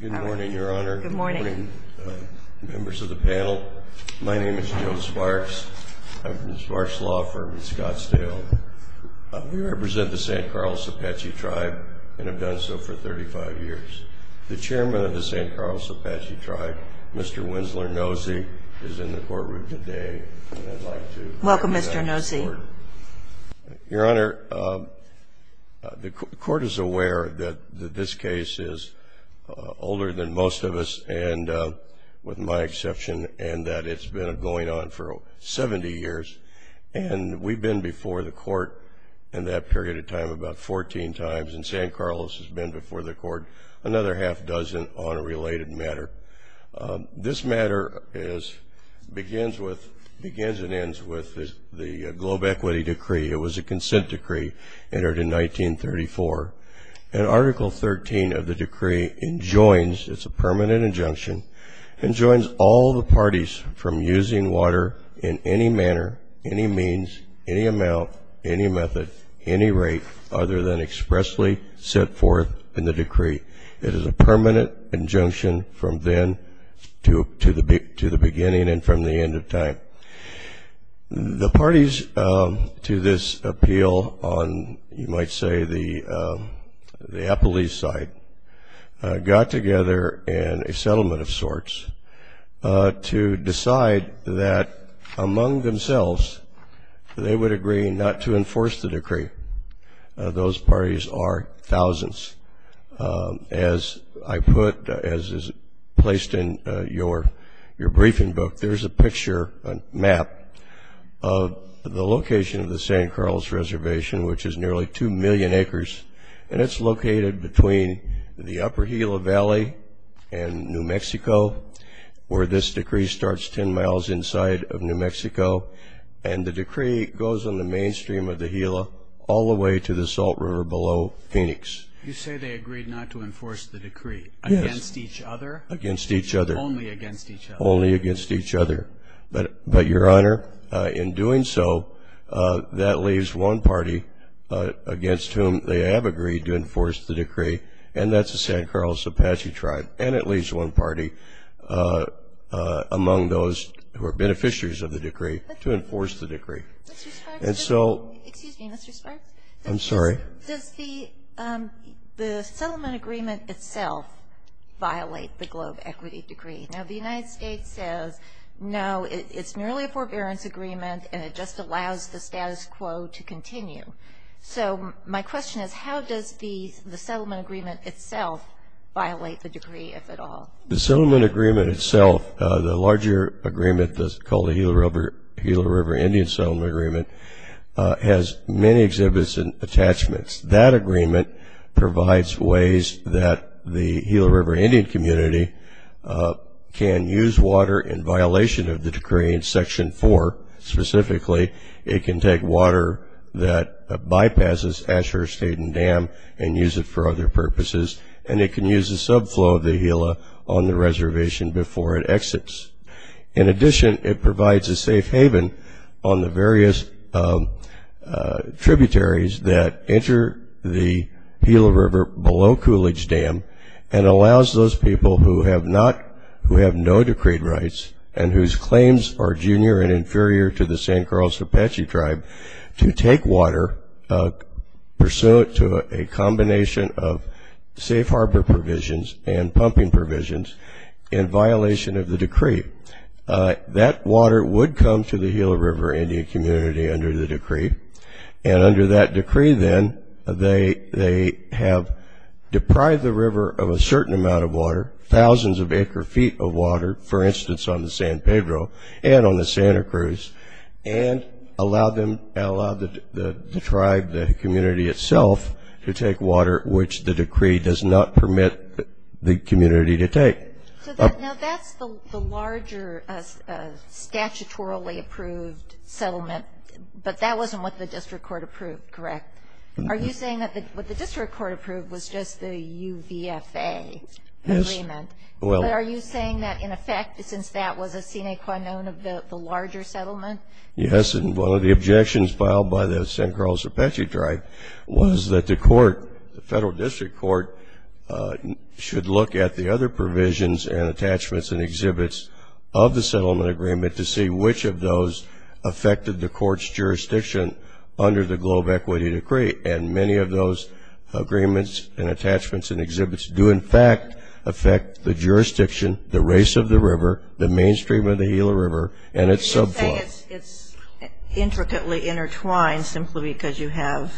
Good morning, Your Honor. Good morning. Members of the panel, my name is Joe Sparks. I'm from Sparks Law Firm in Scottsdale. We represent the St. Carl's Apache Tribe and have done so for 35 years. The Chairman of the St. Carl's Apache Tribe, Mr. Winsler Nosy, is in the courtroom today. Welcome, Mr. Nosy. Your Honor, the Court is aware that this case is older than most of us, with my exception, and that it's been going on for 70 years. And we've been before the Court in that period of time about 14 times, and St. Carl's has been before the Court another half dozen on a related matter. This matter begins and ends with the Globe Equity Decree. It was a consent decree entered in 1934. And Article 13 of the decree enjoins, it's a permanent injunction, enjoins all the parties from using water in any manner, any means, any amount, any method, any rate other than expressly set forth in the decree. It is a permanent injunction from then to the beginning and from the end of time. The parties to this appeal on, you might say, the Appalachian side got together in a settlement of sorts to decide that among themselves they would agree not to enforce the decree. Those parties are thousands. As I put, as is placed in your briefing book, there's a picture, a map, of the location of the St. Carl's Reservation, which is nearly 2 million acres. And it's located between the upper Gila Valley and New Mexico, where this decree starts 10 miles inside of New Mexico. And the decree goes on the mainstream of the Gila all the way to the Salt River below Phoenix. You say they agreed not to enforce the decree against each other? Against each other. Only against each other. Only against each other. But, Your Honor, in doing so, that leaves one party against whom they have agreed to enforce the decree, and that's the St. Carl's Apache Tribe. And it leaves one party among those who are beneficiaries of the decree to enforce the decree. Mr. Stark? I'm sorry? Does the settlement agreement itself violate the globe equity decree? Now, the United States says, no, it's merely a forbearance agreement, and it just allows the status quo to continue. So, my question is, how does the settlement agreement itself violate the decree, if at all? The settlement agreement itself, the larger agreement that's called the Gila River Indian Settlement Agreement, has many exhibits and attachments. That agreement provides ways that the Gila River Indian community can use water in violation of the decree in Section 4, specifically. It can take water that bypasses Ashhurst-Hayden Dam and use it for other purposes, and it can use a subflow of the Gila on the reservation before it exits. In addition, it provides a safe haven on the various tributaries that enter the Gila River below Coolidge Dam, and allows those people who have no decreed rights, and whose claims are junior and inferior to the St. Charles Apache tribe, to take water, pursue it to a combination of safe harbor provisions and pumping provisions, in violation of the decree. That water would come to the Gila River Indian community under the decree, and under that decree, then, they have deprived the river of a certain amount of water, thousands of acre-feet of water, for instance, on the San Pedro and on the Santa Cruz, and allowed the tribe, the community itself, to take water which the decree does not permit the community to take. Now, that's the larger statutorily approved settlement, but that wasn't what the district court approved, correct? Are you saying that what the district court approved was just the UVFA agreement? Yes. But are you saying that, in effect, since that was a sine qua non of the larger settlement? Yes, and one of the objections filed by the St. Charles Apache tribe was that the court, the federal district court, should look at the other provisions and attachments and exhibits of the settlement agreement to see which of those affected the court's jurisdiction under the Globe Equity Decree, and many of those agreements and attachments and exhibits do, in fact, affect the jurisdiction, the race of the river, the mainstream of the Gila River, and its subplot. It's intricately intertwined simply because you have,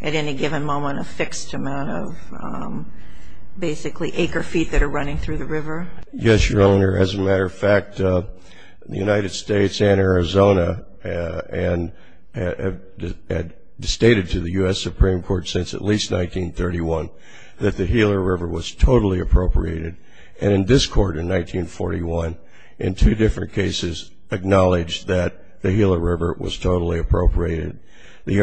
at any given moment, a fixed amount of, basically, acre-feet that are running through the river? Yes, Your Honor. As a matter of fact, the United States and Arizona had stated to the U.S. Supreme Court since at least 1931 that the Gila River was totally appropriated, and this court in 1941, in two different cases, acknowledged that the Gila River was totally appropriated. The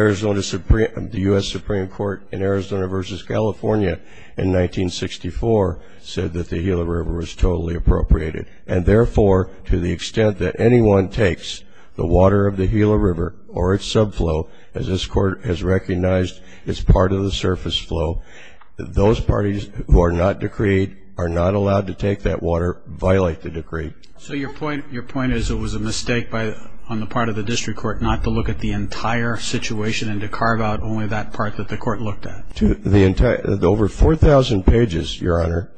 U.S. Supreme Court in Arizona versus California in 1964 said that the Gila River was totally appropriated, and therefore, to the extent that anyone takes the water of the Gila River or its subflow, as this court has recognized, it's part of the surface flow, those parties who are not decreed are not allowed to take that water by like the decree. So your point is it was a mistake on the part of the district court not to look at the entire situation and to carve out only that part that the court looked at? Over 4,000 pages, Your Honor,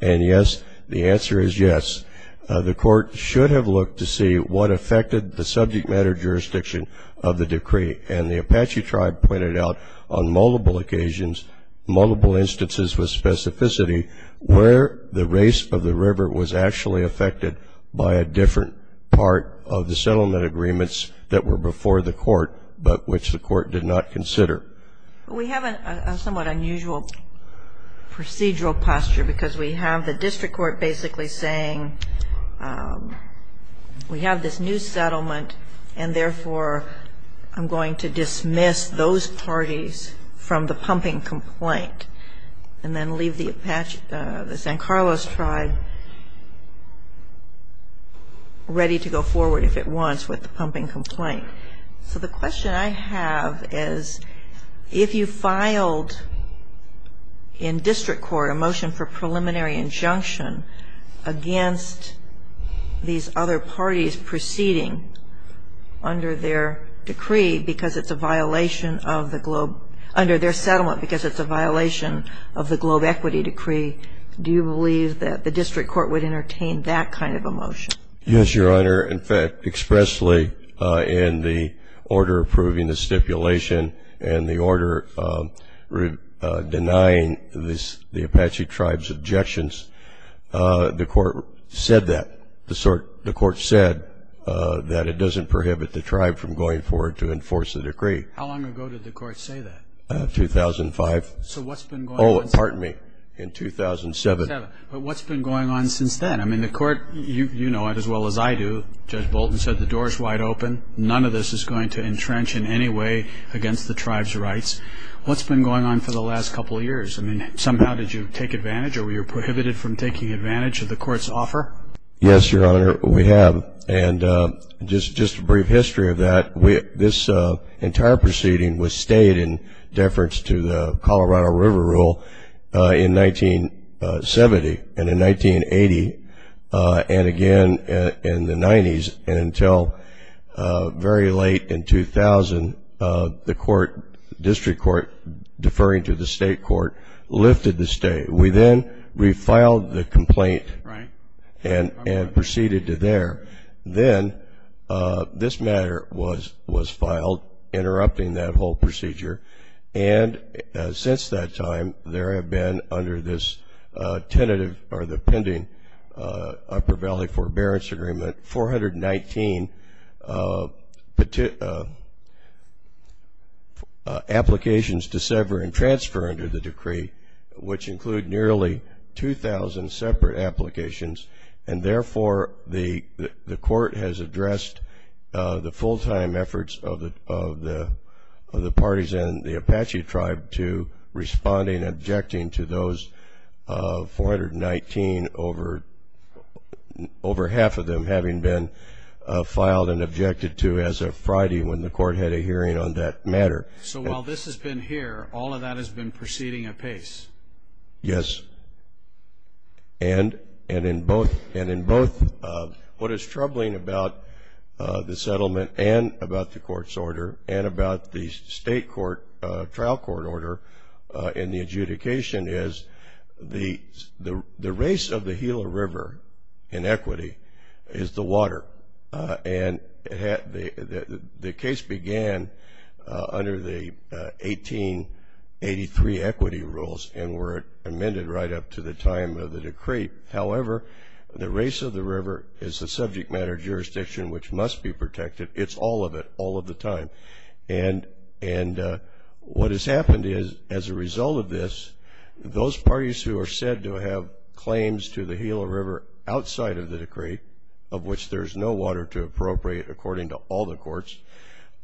and yes, the answer is yes. The court should have looked to see what affected the subject matter jurisdiction of the decree, and the Apache tribe pointed out on multiple occasions, multiple instances with specificity, where the race of the river was actually affected by a different part of the settlement agreements that were before the court but which the court did not consider. We have a somewhat unusual procedural posture because we have the district court basically saying we have this new settlement, and therefore, I'm going to dismiss those parties from the pumping complaint and then leave the San Carlos tribe ready to go forward if it wants with the pumping complaint. So the question I have is if you filed in district court a motion for preliminary injunction against these other parties proceeding under their decree because it's a violation of the globe, under their settlement because it's a violation of the globe equity decree, do you believe that the district court would entertain that kind of a motion? Yes, Your Honor. In fact, expressly in the order approving the stipulation and the order denying the Apache tribe's objections, the court said that. The court said that it doesn't prohibit the tribe from going forward to enforce the decree. How long ago did the court say that? 2005. So what's been going on since then? Oh, pardon me. In 2007. But what's been going on since then? I mean, the court, you know it as well as I do, Judge Bolton said the door is wide open. None of this is going to entrench in any way against the tribe's rights. What's been going on for the last couple of years? I mean, somehow did you take advantage or were you prohibited from taking advantage of the court's offer? Yes, Your Honor, we have. And just a brief history of that, this entire proceeding was stayed in deference to the Colorado River Rule in 1970 and in 1980 and again in the 90s and until very late in 2000, the court, district court, deferring to the state court, lifted the stay. We then refiled the complaint and proceeded to there. So while this has been here, all of that has been proceeding apace? Yes. And were amended right up to the time of the decree. However, the race of the river is a subject matter jurisdiction which must be protected. It's all of it all of the time. And what has happened is as a result of this, those parties who are said to have claims to the Gila River outside of the decree, of which there's no water to appropriate according to all the courts,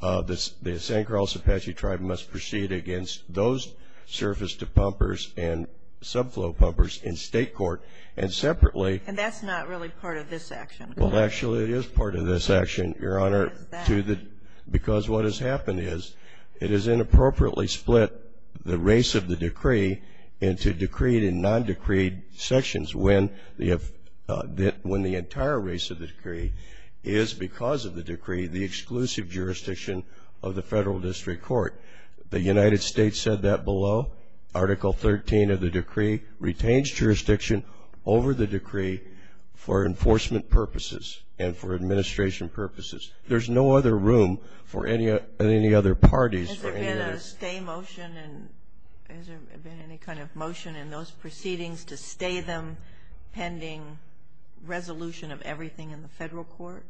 the San Carlos Apache tribe must proceed against those surface to pumpers and subflow pumpers in state court and separately. And that's not really part of this action. Well, actually, it is part of this action, Your Honor, because what has happened is it has inappropriately split the race of the decree into decreed and non-decreed sections when the entire race of the decree is, because of the decree, the exclusive jurisdiction of the federal district court. The United States said that below. Article 13 of the decree retains jurisdiction over the decree for enforcement purposes and for administration purposes. There's no other room for any other parties. Has there been a stay motion and has there been any kind of motion in those proceedings to stay them pending resolution of everything in the federal court?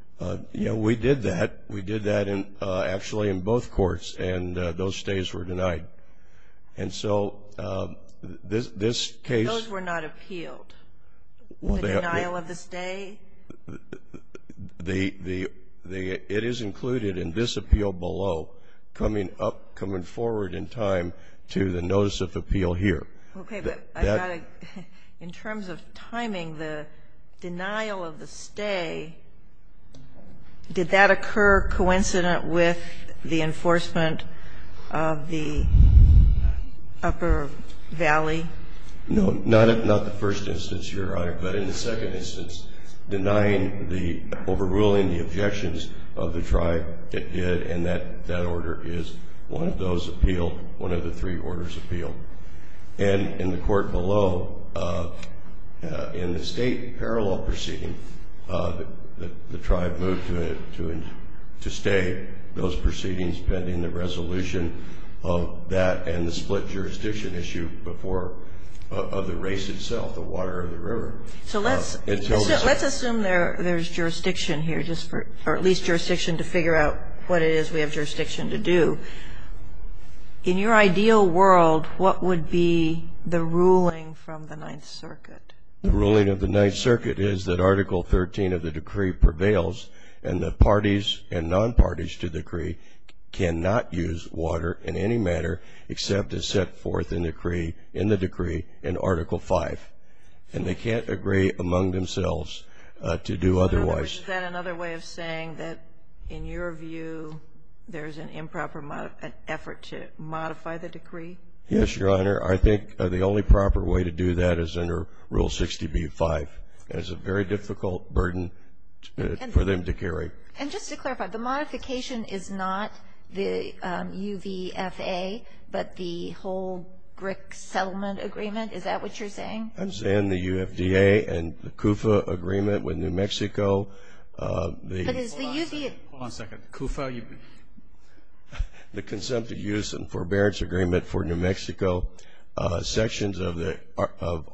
Yeah, we did that. We did that actually in both courts, and those stays were denied. And so this case – Those were not appealed? The denial of the stay? It is included in this appeal below coming forward in time to the notice of appeal here. Okay, but in terms of timing, the denial of the stay, did that occur coincident with the enforcement of the upper valley? No, not in the first instance, Your Honor. But in the second instance, denying the – overruling the objections of the tribe, it did, and that order is one of those appealed, one of the three orders appealed. And in the court below, in the state parallel proceeding, the tribe moved to stay those proceedings pending the resolution of that and the split jurisdiction issue before – of the race itself, the water or the river. So let's assume there's jurisdiction here, or at least jurisdiction to figure out what it is we have jurisdiction to do. In your ideal world, what would be the ruling from the Ninth Circuit? The ruling of the Ninth Circuit is that Article 13 of the decree prevails, and the parties and non-parties to decree cannot use water in any matter except as set forth in the decree in Article 5. And they can't agree among themselves to do otherwise. Is that another way of saying that, in your view, there's an improper effort to modify the decree? Yes, Your Honor. I think the only proper way to do that is under Rule 60b-5. It's a very difficult burden for them to carry. And just to clarify, the modification is not the UVFA, but the whole BRIC settlement agreement. Is that what you're saying? I'm saying the UFDA and the CUFA agreement with New Mexico. Hold on a second. CUFA? The Consumptive Use and Forbearance Agreement for New Mexico. Sections of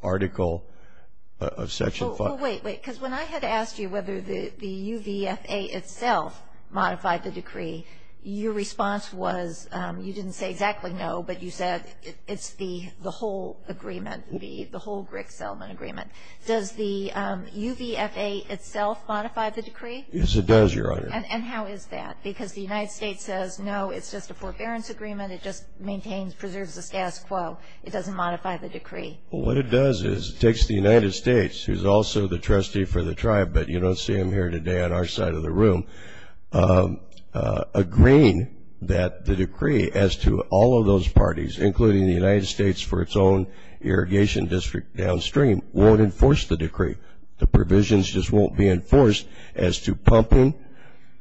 Article – Well, wait, wait. Because when I had asked you whether the UVFA itself modified the decree, your response was – you didn't say exactly no, but you said it's the whole agreement, the whole BRIC settlement agreement. Does the UVFA itself modify the decree? Yes, it does, Your Honor. And how is that? Because the United States says, no, it's just a forbearance agreement. It just maintains – preserves the status quo. It doesn't modify the decree. Well, what it does is it takes the United States, who's also the trustee for the tribe, but you don't see him here today on our side of the room, agreeing that the decree as to all of those parties, including the United States for its own irrigation district downstream, won't enforce the decree. The provisions just won't be enforced as to pumping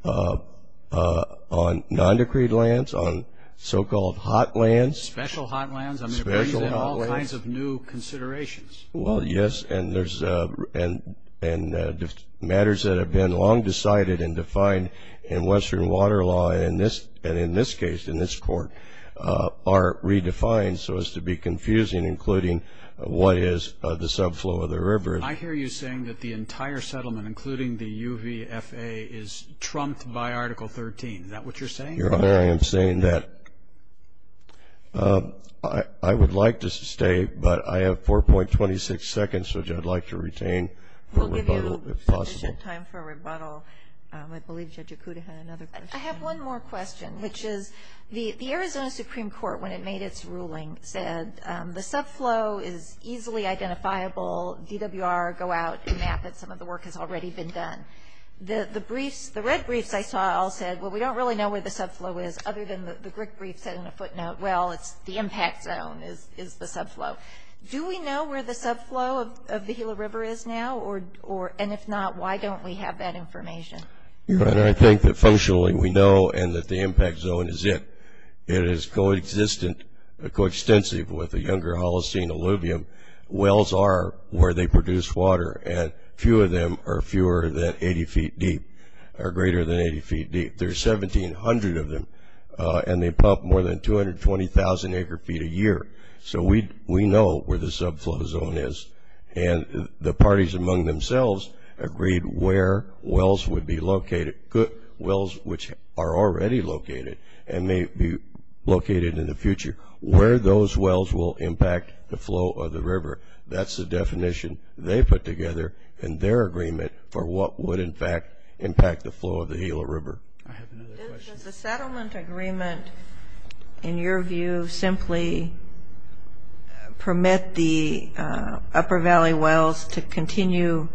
on non-decreed lands, on so-called hot lands. Special hot lands. Special hot lands. I mean, there's been all kinds of new considerations. Well, yes, and there's – and matters that have been long decided and defined in Western water law, and in this case, in this court, are redefined so as to be confusing, including what is the subflow of the river. I hear you saying that the entire settlement, including the UVFA, is trumped by Article 13. Is that what you're saying? Your Honor, I am saying that. I would like to stay, but I have 4.26 seconds, which I'd like to retain for rebuttal, if possible. We'll give you some time for rebuttal. I believe Judge Acuda had another question. I have one more question, which is the Arizona Supreme Court, when it made its ruling, said the subflow is easily identifiable. DWR, go out and map it. Some of the work has already been done. The briefs – the red briefs I saw all said, well, we don't really know where the subflow is, other than the brick brief said in the footnote, well, it's the impact zone is the subflow. Do we know where the subflow of the Gila River is now? And if not, why don't we have that information? Your Honor, I think that functionally we know, and that the impact zone is it. It is co-existent, co-extensive with the Younger Holocene Alluvium. Wells are where they produce water, and few of them are fewer than 80 feet deep, or greater than 80 feet deep. There's 1,700 of them, and they pump more than 220,000 acre-feet a year. So we know where the subflow zone is. And the parties among themselves agreed where wells would be located – wells which are already located and may be located in the future – where those wells will impact the flow of the river. That's the definition they put together in their agreement for what would, in fact, impact the flow of the Gila River. Does the settlement agreement, in your view, simply permit the Upper Valley Wells to continue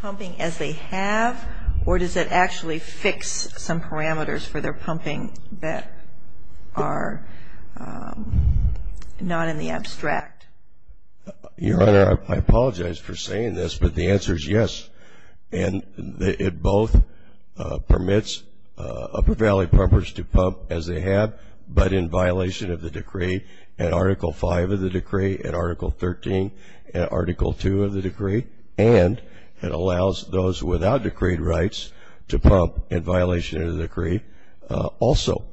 pumping as they have, or does it actually fix some parameters for their pumping that are not in the abstract? Your Honor, I apologize for saying this, but the answer is yes. And it both permits Upper Valley pumpers to pump as they have, but in violation of the decree, and Article 5 of the decree, and Article 13, and Article 2 of the decree, and it allows those without decree rights to pump in violation of the decree also.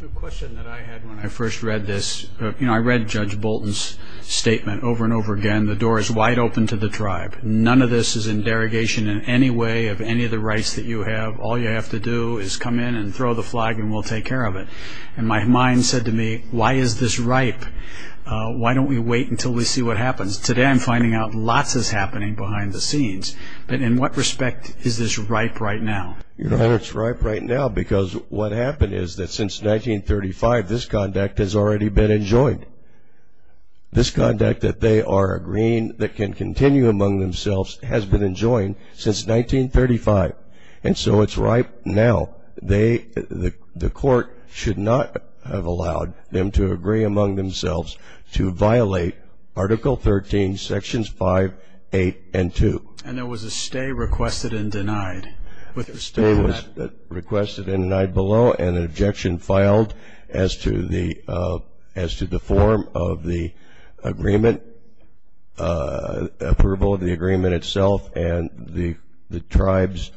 The question that I had when I first read this – you know, I read Judge Bolton's statement over and over again, and the door is wide open to the tribe. None of this is in derogation in any way of any of the rights that you have. All you have to do is come in and throw the flag, and we'll take care of it. And my mind said to me, why is this ripe? Why don't we wait until we see what happens? Today, I'm finding out lots is happening behind the scenes. But in what respect is this ripe right now? Your Honor, it's ripe right now because what happened is that since 1935, this conduct has already been enjoyed. This conduct that they are agreeing that can continue among themselves has been enjoyed since 1935. And so it's ripe now. The court should not have allowed them to agree among themselves to violate Article 13, Sections 5, 8, and 2. And there was a stay requested and denied. A stay was requested and denied below, and an objection filed as to the form of the agreement, approval of the agreement itself, and the tribe's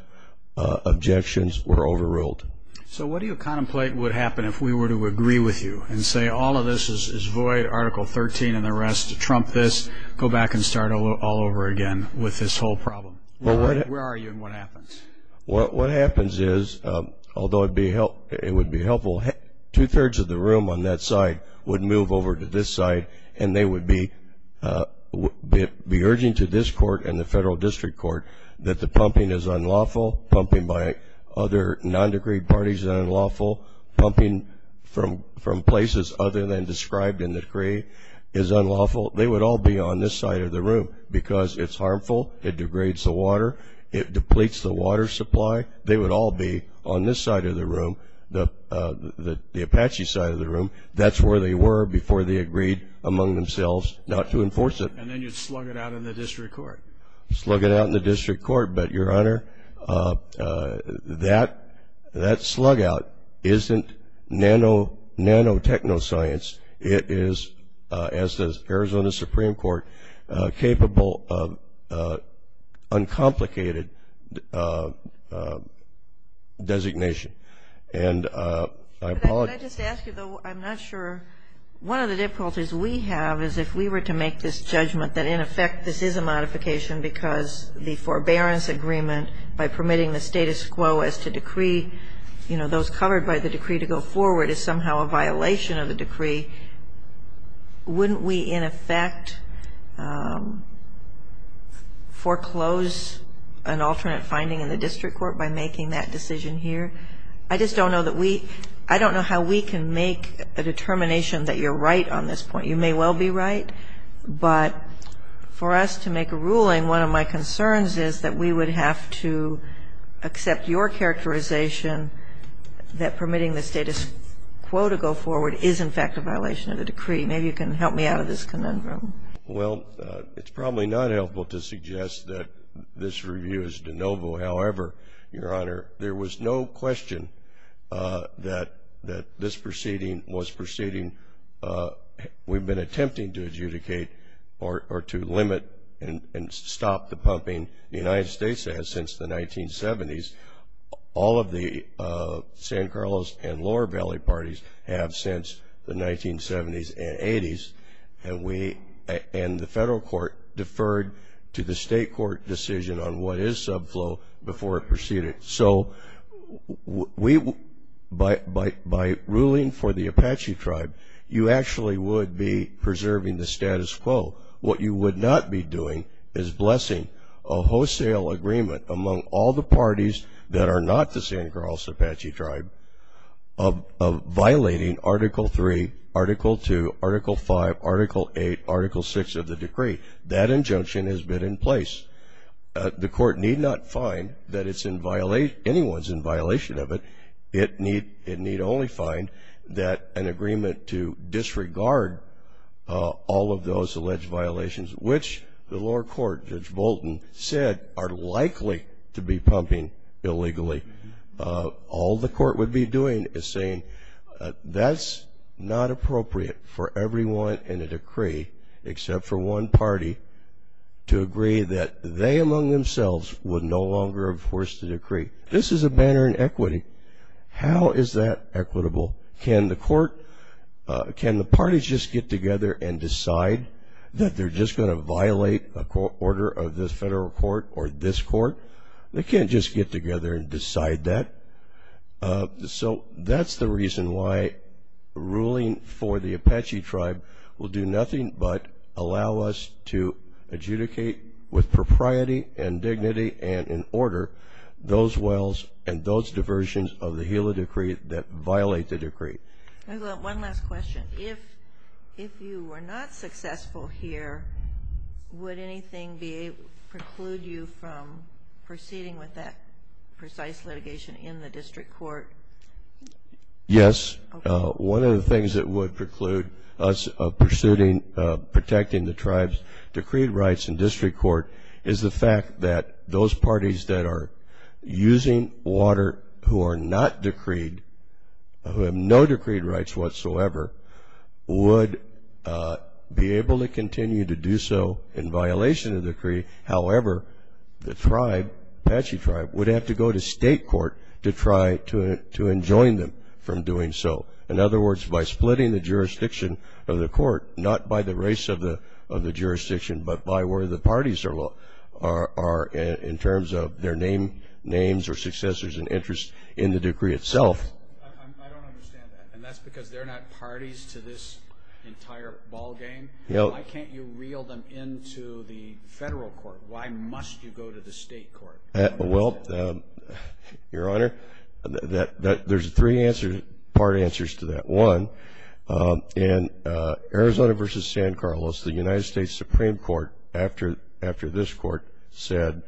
objections were overruled. So what do you contemplate would happen if we were to agree with you and say all of this is void, Article 13 and the rest, trump this, go back and start all over again with this whole problem? Where are you and what happens? What happens is, although it would be helpful, two-thirds of the room on that side would move over to this side, and they would be urging to this court and the federal district court that the pumping is unlawful, pumping by other nondecreed parties is unlawful, pumping from places other than described in the decree is unlawful. They would all be on this side of the room because it's harmful, it degrades the water, it depletes the water supply. They would all be on this side of the room, the Apache side of the room. That's where they were before they agreed among themselves not to enforce it. And then you'd slug it out in the district court. Slug it out in the district court, but, Your Honor, that slug out isn't nanotechnology science. It is, as does Arizona Supreme Court, capable of uncomplicated designation. And I apologize. Can I just ask you, though, I'm not sure. One of the difficulties we have is if we were to make this judgment that, in effect, this is a modification because the forbearance agreement by permitting the status quo as to decree, you know, those covered by the decree to go forward is somehow a violation of the decree, wouldn't we, in effect, foreclose an alternate finding in the district court by making that decision here? I just don't know that we – I don't know how we can make a determination that you're right on this point. You may well be right. But for us to make a ruling, one of my concerns is that we would have to accept your characterization that permitting the status quo to go forward is, in fact, a violation of the decree. Maybe you can help me out of this conundrum. Well, it's probably not helpful to suggest that this review is de novo. However, Your Honor, there was no question that this proceeding was proceeding – we've been attempting to adjudicate or to limit and stop the pumping the United States has since the 1970s. All of the San Carlos and Lower Valley parties have since the 1970s and 80s. And we – and the federal court deferred to the state court decision on what is subflow before it proceeded. So we – by ruling for the Apache Tribe, you actually would be preserving the status quo. What you would not be doing is blessing a wholesale agreement among all the parties that are not the San Carlos Apache Tribe of violating Article III, Article II, Article V, Article VIII, Article VI of the decree. That injunction has been in place. The court need not find that it's in – anyone's in violation of it. It need only find that an agreement to disregard all of those alleged violations, which the lower court, Judge Bolton, said are likely to be pumping illegally. All the court would be doing is saying that's not appropriate for everyone in a decree, except for one party, to agree that they among themselves would no longer enforce the decree. This is a matter in equity. How is that equitable? Can the court – can the parties just get together and decide that they're just going to violate a court order of this federal court or this court? They can't just get together and decide that. So that's the reason why ruling for the Apache Tribe will do nothing but allow us to adjudicate with propriety and dignity and in order those wells and those diversions of the Gila Decree that violate the decree. One last question. If you were not successful here, would anything preclude you from proceeding with that precise litigation in the district court? Yes. One of the things that would preclude us of protecting the tribe's decreed rights in district court is the fact that those parties that are using water who are not decreed, who have no decreed rights whatsoever, would be able to continue to do so in violation of the decree. However, the tribe, Apache Tribe, would have to go to state court to try to enjoin them from doing so. In other words, by splitting the jurisdiction of the court, not by the race of the jurisdiction, but by where the parties are in terms of their names or successors and interest in the decree itself. I don't understand that. And that's because they're not parties to this entire ballgame? No. Why can't you reel them into the federal court? Why must you go to the state court? Well, Your Honor, there's three part answers to that. One, in Arizona v. San Carlos, the United States Supreme Court, after this court, said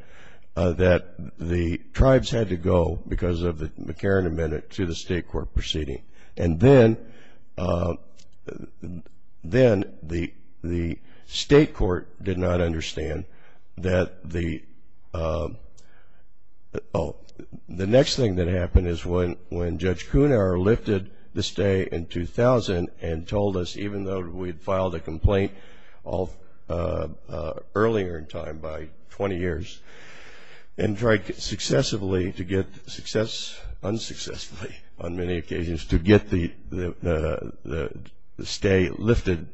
that the tribes had to go, because of the McCarran Amendment, to the state court proceeding. And then the state court did not understand that the next thing that happened is when Judge Cunar lifted the stay in 2000 and told us, even though we had filed a complaint earlier in time, by 20 years, and tried unsuccessfully on many occasions to get the stay lifted,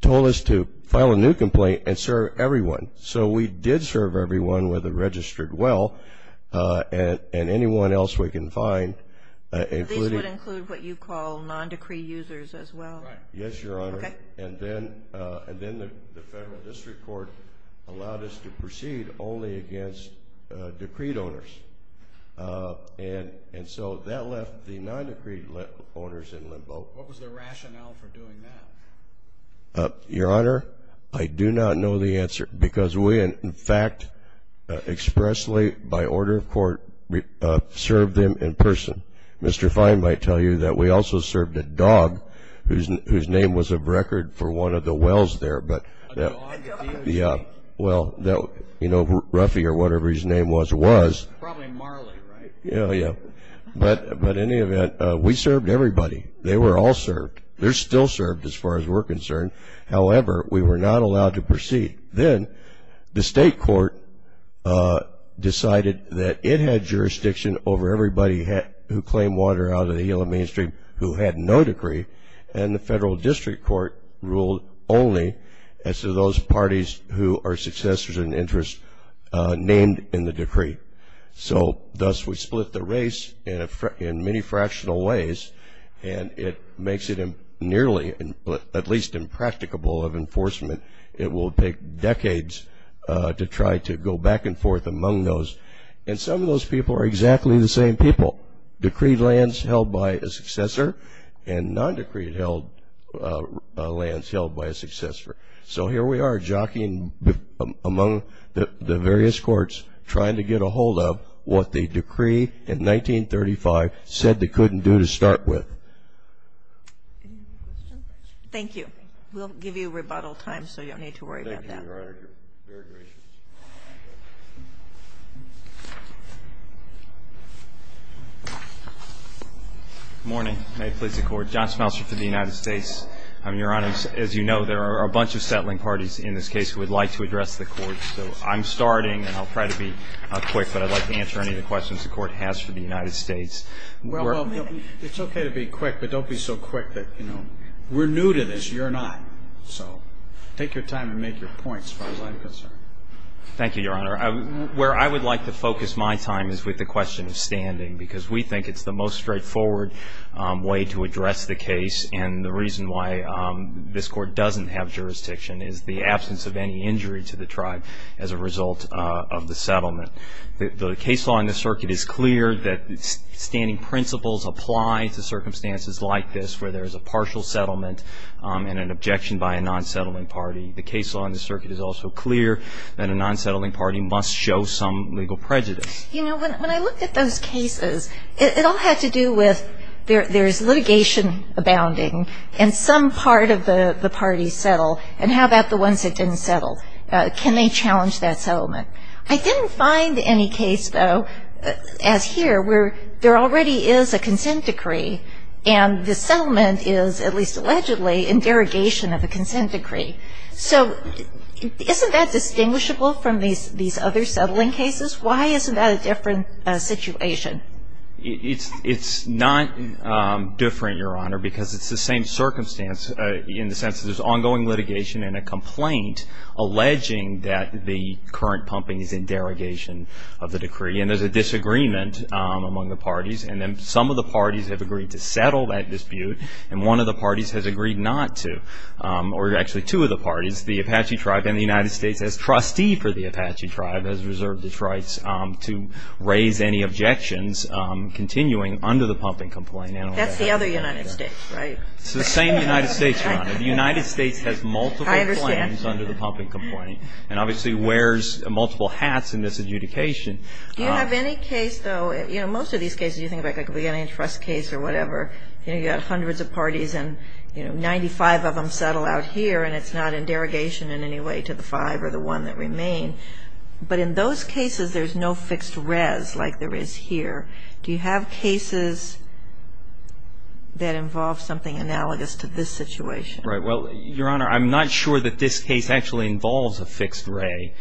told us to file a new complaint and serve everyone. So we did serve everyone with a registered will, and anyone else we can find. These would include what you call non-decree users as well? Yes, Your Honor. And then the federal district court allowed us to proceed only against decreed owners. And so that left the non-decreed owners in limbo. What was the rationale for doing that? Your Honor, I do not know the answer, because we, in fact, expressly, by order of court, served them in person. Mr. Fine might tell you that we also served a dog whose name was a record for one of the wills there. Well, you know, Ruffy, or whatever his name was, was. Probably Marley, right? Yeah, yeah. But in any event, we served everybody. They were all served. They're still served, as far as we're concerned. However, we were not allowed to proceed. Then the state court decided that it had jurisdiction over everybody who claimed water out of the Yellow Mainstream who had no decree, and the federal district court ruled only as to those parties who are successors in interest named in the decree. So thus we split the race in many fractional ways, and it makes it nearly, at least impracticable of enforcement. It will take decades to try to go back and forth among those. And some of those people are exactly the same people. Decree lands held by a successor, and non-decree lands held by a successor. So here we are, jockeying among the various courts, trying to get a hold of what the decree in 1935 said they couldn't do to start with. Thank you. We'll give you rebuttal time, so you don't need to worry about that. Thank you, Your Honor. Very gracious. Good morning. May it please the Court. John Smeltzer for the United States. Your Honor, as you know, there are a bunch of settling parties in this case who would like to address the Court. So I'm starting, and I'll try to be quick, but I'd like to answer any of the questions the Court has for the United States. It's okay to be quick, but don't be so quick that, you know, we're new to this. You're not. So take your time and make your points as far as I'm concerned. Thank you, Your Honor. Where I would like to focus my time is with the question of standing, because we think it's the most straightforward way to address the case. And the reason why this Court doesn't have jurisdiction is the absence of any injury to the tribe as a result of the settlement. The case law in this circuit is clear that standing principles apply to circumstances like this, where there's a partial settlement and an objection by a non-settling party. The case law in this circuit is also clear that a non-settling party must show some legal prejudice. You know, when I looked at those cases, it all had to do with there's litigation abounding, and some part of the party settled, and how about the ones that didn't settle? Can they challenge that settlement? I didn't find any case, though, as here, where there already is a consent decree, and the settlement is, at least allegedly, in derogation of the consent decree. So isn't that distinguishable from these other settling cases? Why isn't that a different situation? It's not different, Your Honor, because it's the same circumstance, in the sense that there's ongoing litigation and a complaint alleging that the current pumping is in derogation of the decree, and there's a disagreement among the parties, and then some of the parties have agreed to settle that dispute, and one of the parties has agreed not to, or actually two of the parties, the Apache tribe and the United States as trustees for the Apache tribe, has reserved its rights to raise any objections continuing under the pumping complaint. That's the other United States, right? It's the same United States, Your Honor. The United States has multiple claims under the pumping complaint, and obviously wears multiple hats in this adjudication. Do you have any case, though, you know, most of these cases, you think like a beginning trust case or whatever, and you've got hundreds of parties, and 95 of them settle out here, and it's not in derogation in any way to the five or the one that remains, but in those cases, there's no fixed res, like there is here. Do you have cases that involve something analogous to this situation? Right. Well, Your Honor, I'm not sure that this case actually involves a fixed res.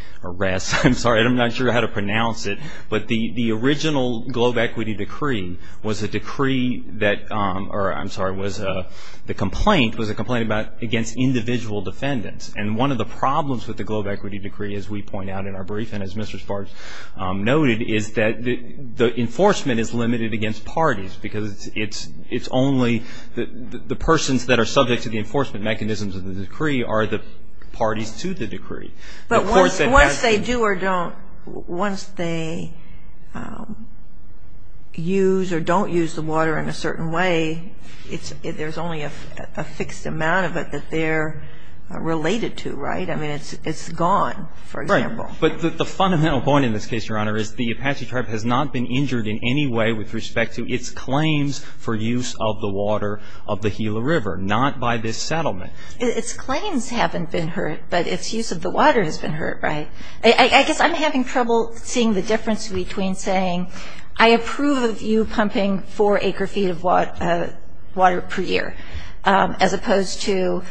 I'm sorry. I'm not sure how to pronounce it, but the original globe equity decree was a decree that, or I'm sorry, was the complaint was a complaint against individual defendants, and one of the problems with the globe equity decree, as we point out in our brief, and as Mr. Sparks noted, is that the enforcement is limited against parties, because it's only the persons that are subject to the enforcement mechanisms of the decree are the parties to the decree. But once they do or don't, once they use or don't use the water in a certain way, there's only a fixed amount of it that they're related to, right? I mean, it's gone, for example. But the fundamental point in this case, Your Honor, is the Apache tribe has not been injured in any way with respect to its claims for use of the water of the Gila River, not by this settlement. Its claims haven't been hurt, but its use of the water has been hurt, right? I guess I'm having trouble seeing the difference between saying, I approve of you pumping four acre feet of water per year, as opposed to,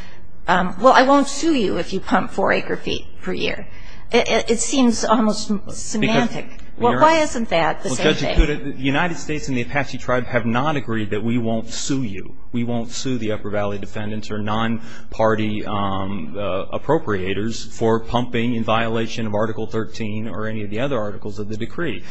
well, I won't sue you if you pump four acre feet per year. It seems almost semantic. Well, why isn't that the case? Well, Judge, the United States and the Apache tribes have not agreed that we won't sue you. We won't sue the Upper Valley defendants or non-party appropriators for pumping in violation of Article 13 or any of the other articles of the decree.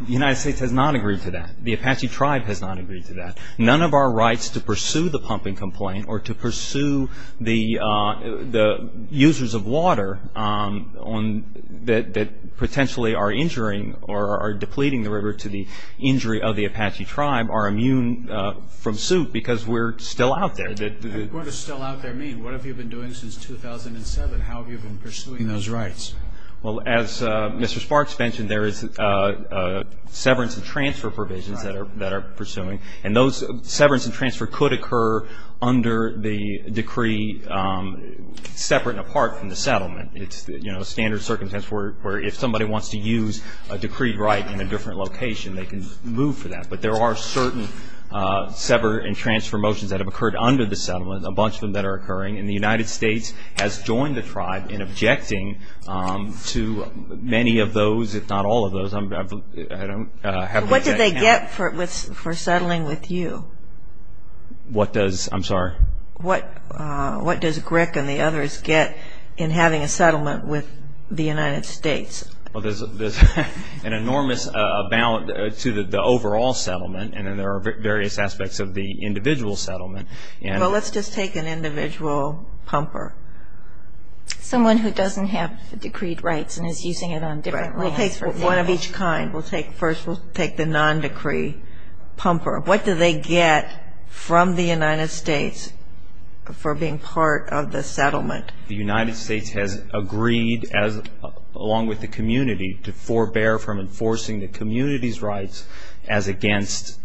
The United States has not agreed to that. The Apache tribe has not agreed to that. None of our rights to pursue the pumping complaint or to pursue the users of water that potentially are injuring or are depleting the river to the injury of the Apache tribe are immune from suit because we're still out there. What does still out there mean? What have you been doing since 2007? How have you been pursuing those rights? Well, as Mr. Sparks mentioned, there is severance and transfer provisions that are pursuing, and those severance and transfer could occur under the decree separate and apart from the settlement. It's, you know, standard circumstance where if somebody wants to use a decreed right in a different location, they can move for that. But there are certain severance and transfer motions that have occurred under the settlement, a bunch of them that are occurring, and the United States has joined the tribe in objecting to many of those, if not all of those. What do they get for settling with you? What does, I'm sorry? What does Grick and the others get in having a settlement with the United States? Well, there's an enormous amount to the overall settlement, and then there are various aspects of the individual settlement. Well, let's just take an individual pumper. Someone who doesn't have the decreed rights and is using it on different locations. One of each kind. First, we'll take the non-decree pumper. What do they get from the United States for being part of the settlement? The United States has agreed, along with the community, to forbear from enforcing the community's rights as against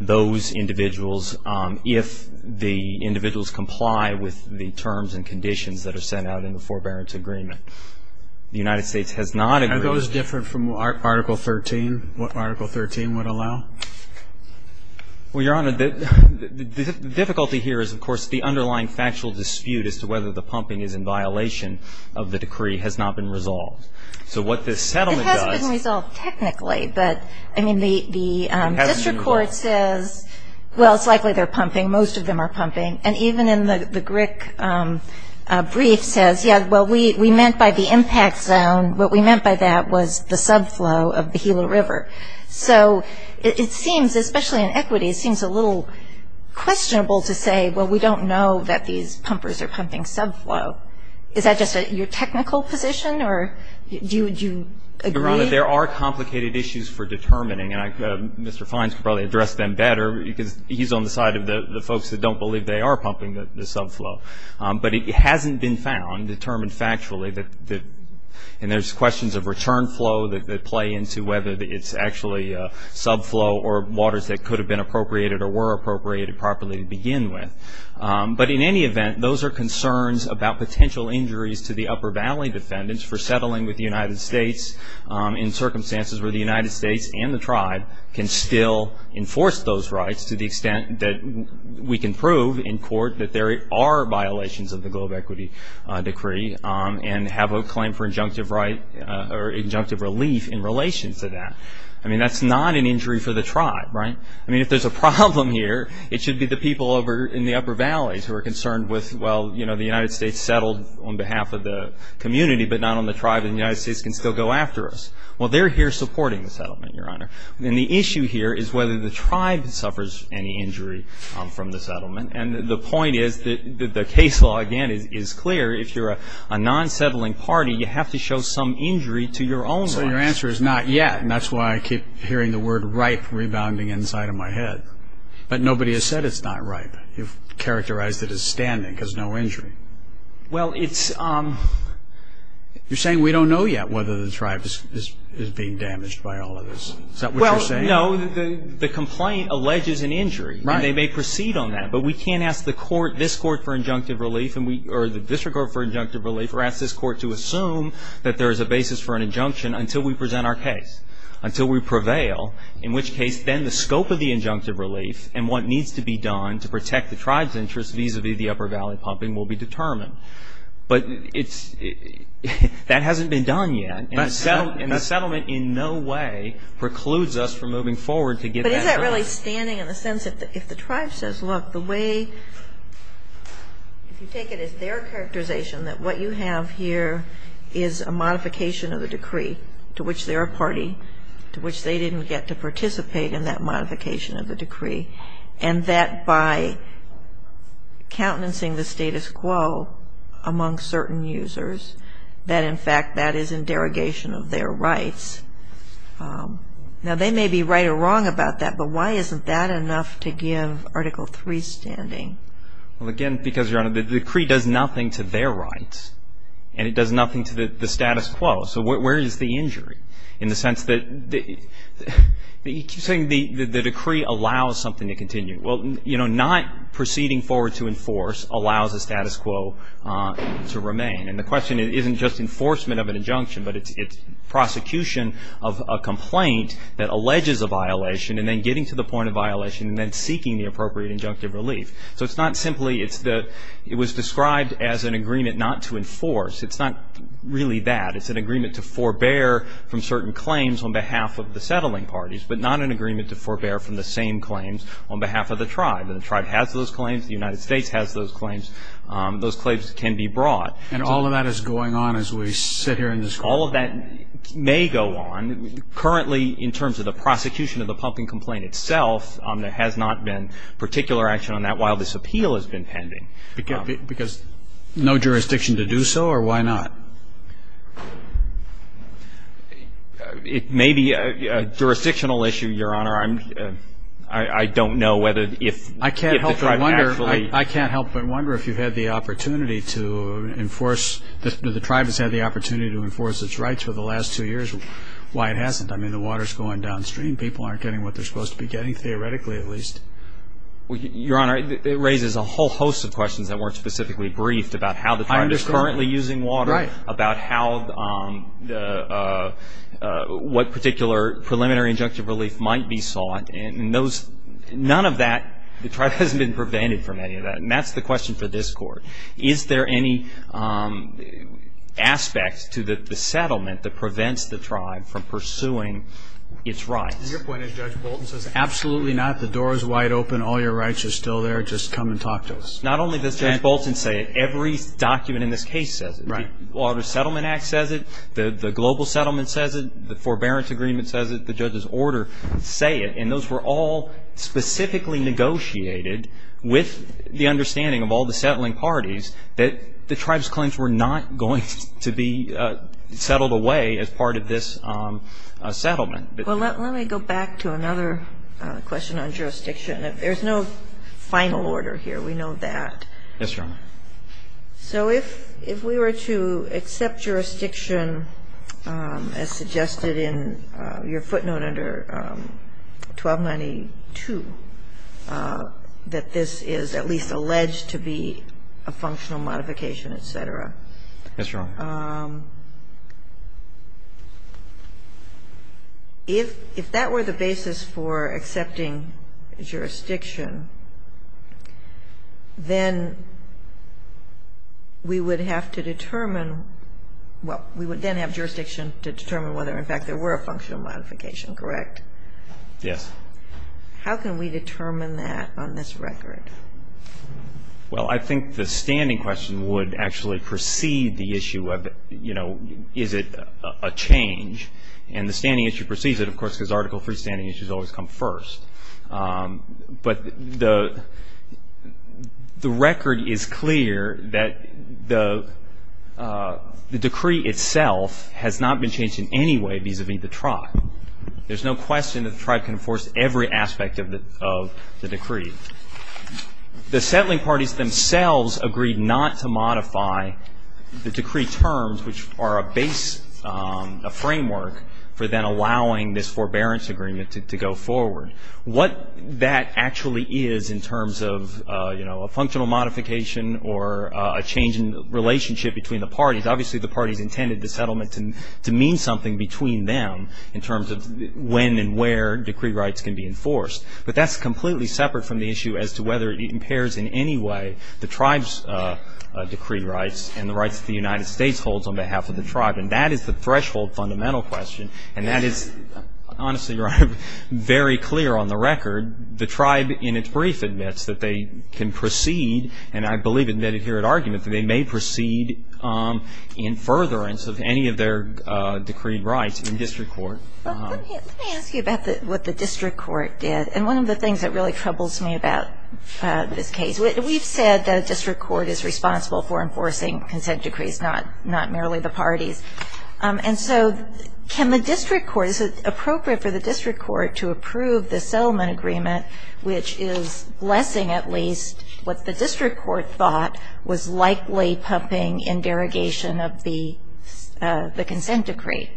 those individuals if the individuals comply with the terms and conditions that are set out in the forbearance agreement. The United States has not agreed. Are those different from Article 13, what Article 13 would allow? Well, Your Honor, the difficulty here is, of course, the underlying factual dispute as to whether the pumping is in violation of the decree has not been resolved. So what this settlement does. It hasn't been resolved technically, but, I mean, the district court says. It hasn't been resolved. Well, it's likely they're pumping. Most of them are pumping. And even in the Greek brief says, well, we meant by the impact zone, what we meant by that was the subflow of the Gila River. So it seems, especially in equity, it seems a little questionable to say, well, we don't know that these pumpers are pumping subflow. Is that just your technical position or do you agree? Your Honor, there are complicated issues for determining. Mr. Fines could probably address them better. He's on the side of the folks that don't believe they are pumping the subflow. But it hasn't been found, determined factually, and there's questions of return flow that play into whether it's actually subflow or waters that could have been appropriated or were appropriated properly to begin with. But in any event, those are concerns about potential injuries to the Upper Valley defendants for settling with the United States in circumstances where the United States and the tribe can still enforce those rights to the extent that we can prove in court that there are violations of the global equity decree and have a claim for injunctive right or injunctive relief in relation to that. I mean, that's not an injury for the tribe, right? I mean, if there's a problem here, it should be the people over in the Upper Valleys who are concerned with, well, you know, the United States settled on behalf of the community but not on the tribe and the United States can still go after us. Well, they're here supporting the settlement, Your Honor. And the issue here is whether the tribe suffers any injury from the settlement. And the point is that the case law, again, is clear. If you're a non-settling party, you have to show some injury to your own right. So your answer is not yet, and that's why I keep hearing the word right rebounding inside of my head. But nobody has said it's not right. You've characterized it as standing because no injury. Well, it's – you're saying we don't know yet whether the tribe is being damaged by all of this. Is that what you're saying? Well, no. The complaint alleges an injury, and they may proceed on that. But we can't ask this court for injunctive relief or the district court for injunctive relief or ask this court to assume that there is a basis for an injunction until we present our case, until we prevail, in which case then the scope of the injunctive relief and what needs to be done to protect the tribe's interest vis-a-vis the upper valley pumping will be determined. But it's – that hasn't been done yet. And the settlement in no way precludes us from moving forward to get that done. But is that really standing in the sense that if the tribe says, look, the way – if you take it as their characterization that what you have here is a modification of the decree to which they're a party, to which they didn't get to participate in that modification of the decree, and that by countenancing the status quo among certain users that, in fact, that is in derogation of their rights. Now, they may be right or wrong about that, but why isn't that enough to give Article III standing? Well, again, because, Your Honor, the decree does nothing to their rights, and it does nothing to the status quo. So where is the injury in the sense that – you keep saying the decree allows something to continue. Well, you know, not proceeding forward to enforce allows the status quo to remain. And the question isn't just enforcement of an injunction, but it's prosecution of a complaint that alleges a violation and then getting to the point of violation and then seeking the appropriate injunctive relief. So it's not simply – it's the – it was described as an agreement not to enforce. It's not really that. It's an agreement to forbear from certain claims on behalf of the settling parties, but not an agreement to forbear from the same claims on behalf of the tribe. And the tribe has those claims. The United States has those claims. Those claims can be brought. And all of that is going on as we sit here in this court. All of that may go on. Currently, in terms of the prosecution of the pumpkin complaint itself, there has not been particular action on that while this appeal has been pending. Because no jurisdiction to do so, or why not? It may be a jurisdictional issue, Your Honor. I don't know whether if the tribe actually – I can't help but wonder if you had the opportunity to enforce – if the tribe has had the opportunity to enforce its rights for the last two years. Why it hasn't. I mean, the water is going downstream. Your Honor, it raises a whole host of questions that weren't specifically briefed about how the tribe is currently using water. Right. About how – what particular preliminary injunctive relief might be sought. And none of that – the tribe hasn't been prevented from any of that. And that's the question for this court. Is there any aspect to the settlement that prevents the tribe from pursuing its rights? Absolutely not. The door is wide open. All your rights are still there. Just come and talk to us. Not only does Judge Bolton say it. Every document in this case says it. Right. The Water Settlement Act says it. The Global Settlement says it. The Forbearance Agreement says it. The judge's order say it. And those were all specifically negotiated with the understanding of all the settling parties that the tribe's claims were not going to be settled away as part of this settlement. Well, let me go back to another question on jurisdiction. There's no final order here. We know that. Yes, Your Honor. So if we were to accept jurisdiction as suggested in your footnote under 1292, that this is at least alleged to be a functional modification, et cetera. Yes, Your Honor. If that were the basis for accepting jurisdiction, then we would have to determine what we would then have jurisdiction to determine whether, in fact, there were a functional modification, correct? Yes. How can we determine that on this record? Well, I think the standing question would actually precede the issue of, you know, is it a change? And the standing issue precedes it, of course, because Article III standing issues always come first. But the record is clear that the decree itself has not been changed in any way vis-à-vis the tribe. There's no question that the tribe can enforce every aspect of the decree. The settling parties themselves agreed not to modify the decree terms, which are a base, a framework for then allowing this forbearance agreement to go forward. What that actually is in terms of, you know, a functional modification or a change in relationship between the parties, obviously the parties intended the settlement to mean something between them in terms of when and where decree rights can be enforced. But that's completely separate from the issue as to whether it impairs in any way the tribe's decree rights and the rights that the United States holds on behalf of the tribe. And that is the threshold fundamental question. And that is, honestly, very clear on the record. The tribe in its brief admits that they can proceed, and I believe admitted here at argument, that they may proceed in furtherance of any of their decree rights in district court. Let me ask you about what the district court did. And one of the things that really troubles me about this case, we've said that a district court is responsible for enforcing consent decrees, not merely the parties. And so can the district court, is it appropriate for the district court to approve the settlement agreement, which is blessing at least what the district court thought was likely pumping in derogation of the consent decree?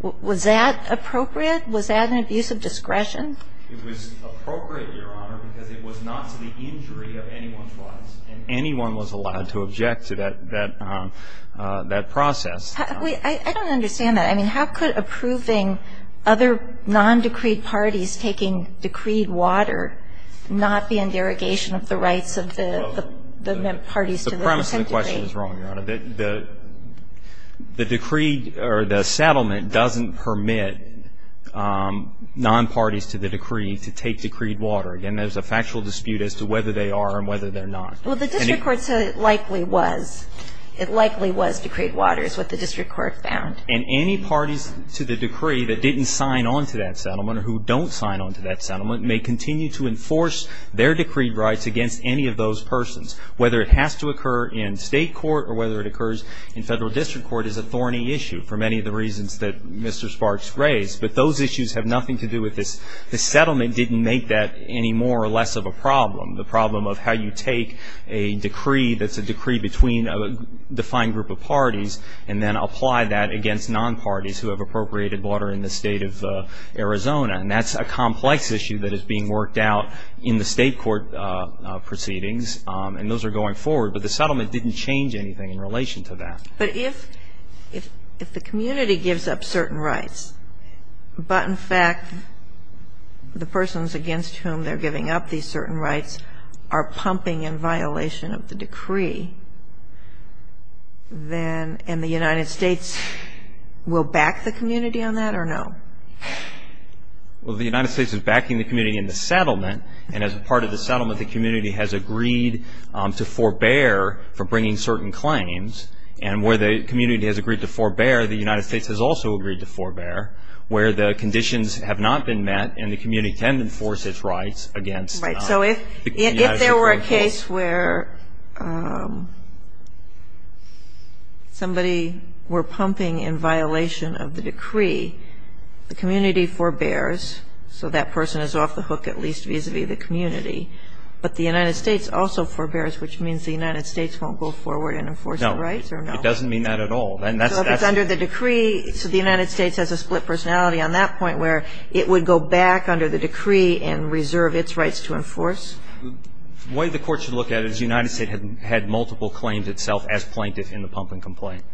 Was that appropriate? Was that an abuse of discretion? It was appropriate, Your Honor, because it was not to the injury of anyone's rights, and anyone was allowed to object to that process. I don't understand that. I mean, how could approving other non-decreed parties taking decreed water not be in derogation of the rights of the parties to the consent decree? The premise of the question is wrong, Your Honor. The decree or the settlement doesn't permit non-parties to the decree to take decreed water. Again, there's a factual dispute as to whether they are and whether they're not. Well, the district court said it likely was. It likely was decreed water is what the district court found. And any parties to the decree that didn't sign on to that settlement or who don't sign on to that settlement may continue to enforce their decree rights against any of those persons, whether it has to occur in state court or whether it occurs in federal district court is a thorny issue for many of the reasons that Mr. Sparks raised. But those issues have nothing to do with this. The settlement didn't make that any more or less of a problem, the problem of how you take a decree that's a decree between a defined group of parties and then apply that against non-parties who have appropriated water in the state of Arizona. And that's a complex issue that is being worked out in the state court proceedings. And those are going forward. But the settlement didn't change anything in relation to that. But if the community gives up certain rights but, in fact, the persons against whom they're giving up these certain rights are pumping in violation of the decree, then the United States will back the community on that or no? Well, the United States is backing the community in the settlement. And as a part of the settlement, the community has agreed to forbear for bringing certain claims. And where the community has agreed to forbear, the United States has also agreed to forbear where the conditions have not been met and the community can't enforce its rights against the adjudicator. Right. So if there were a case where somebody were pumping in violation of the decree, the community forbears, so that person is off the hook at least vis-a-vis the community. But the United States also forbears, which means the United States won't go forward and enforce the rights or no? No. It doesn't mean that at all. So if it's under the decree, so the United States has a split personality on that point where it would go back under the decree and reserve its rights to enforce? The way the court should look at it is the United States had multiple claims itself as plaintiff in the pumping complaint.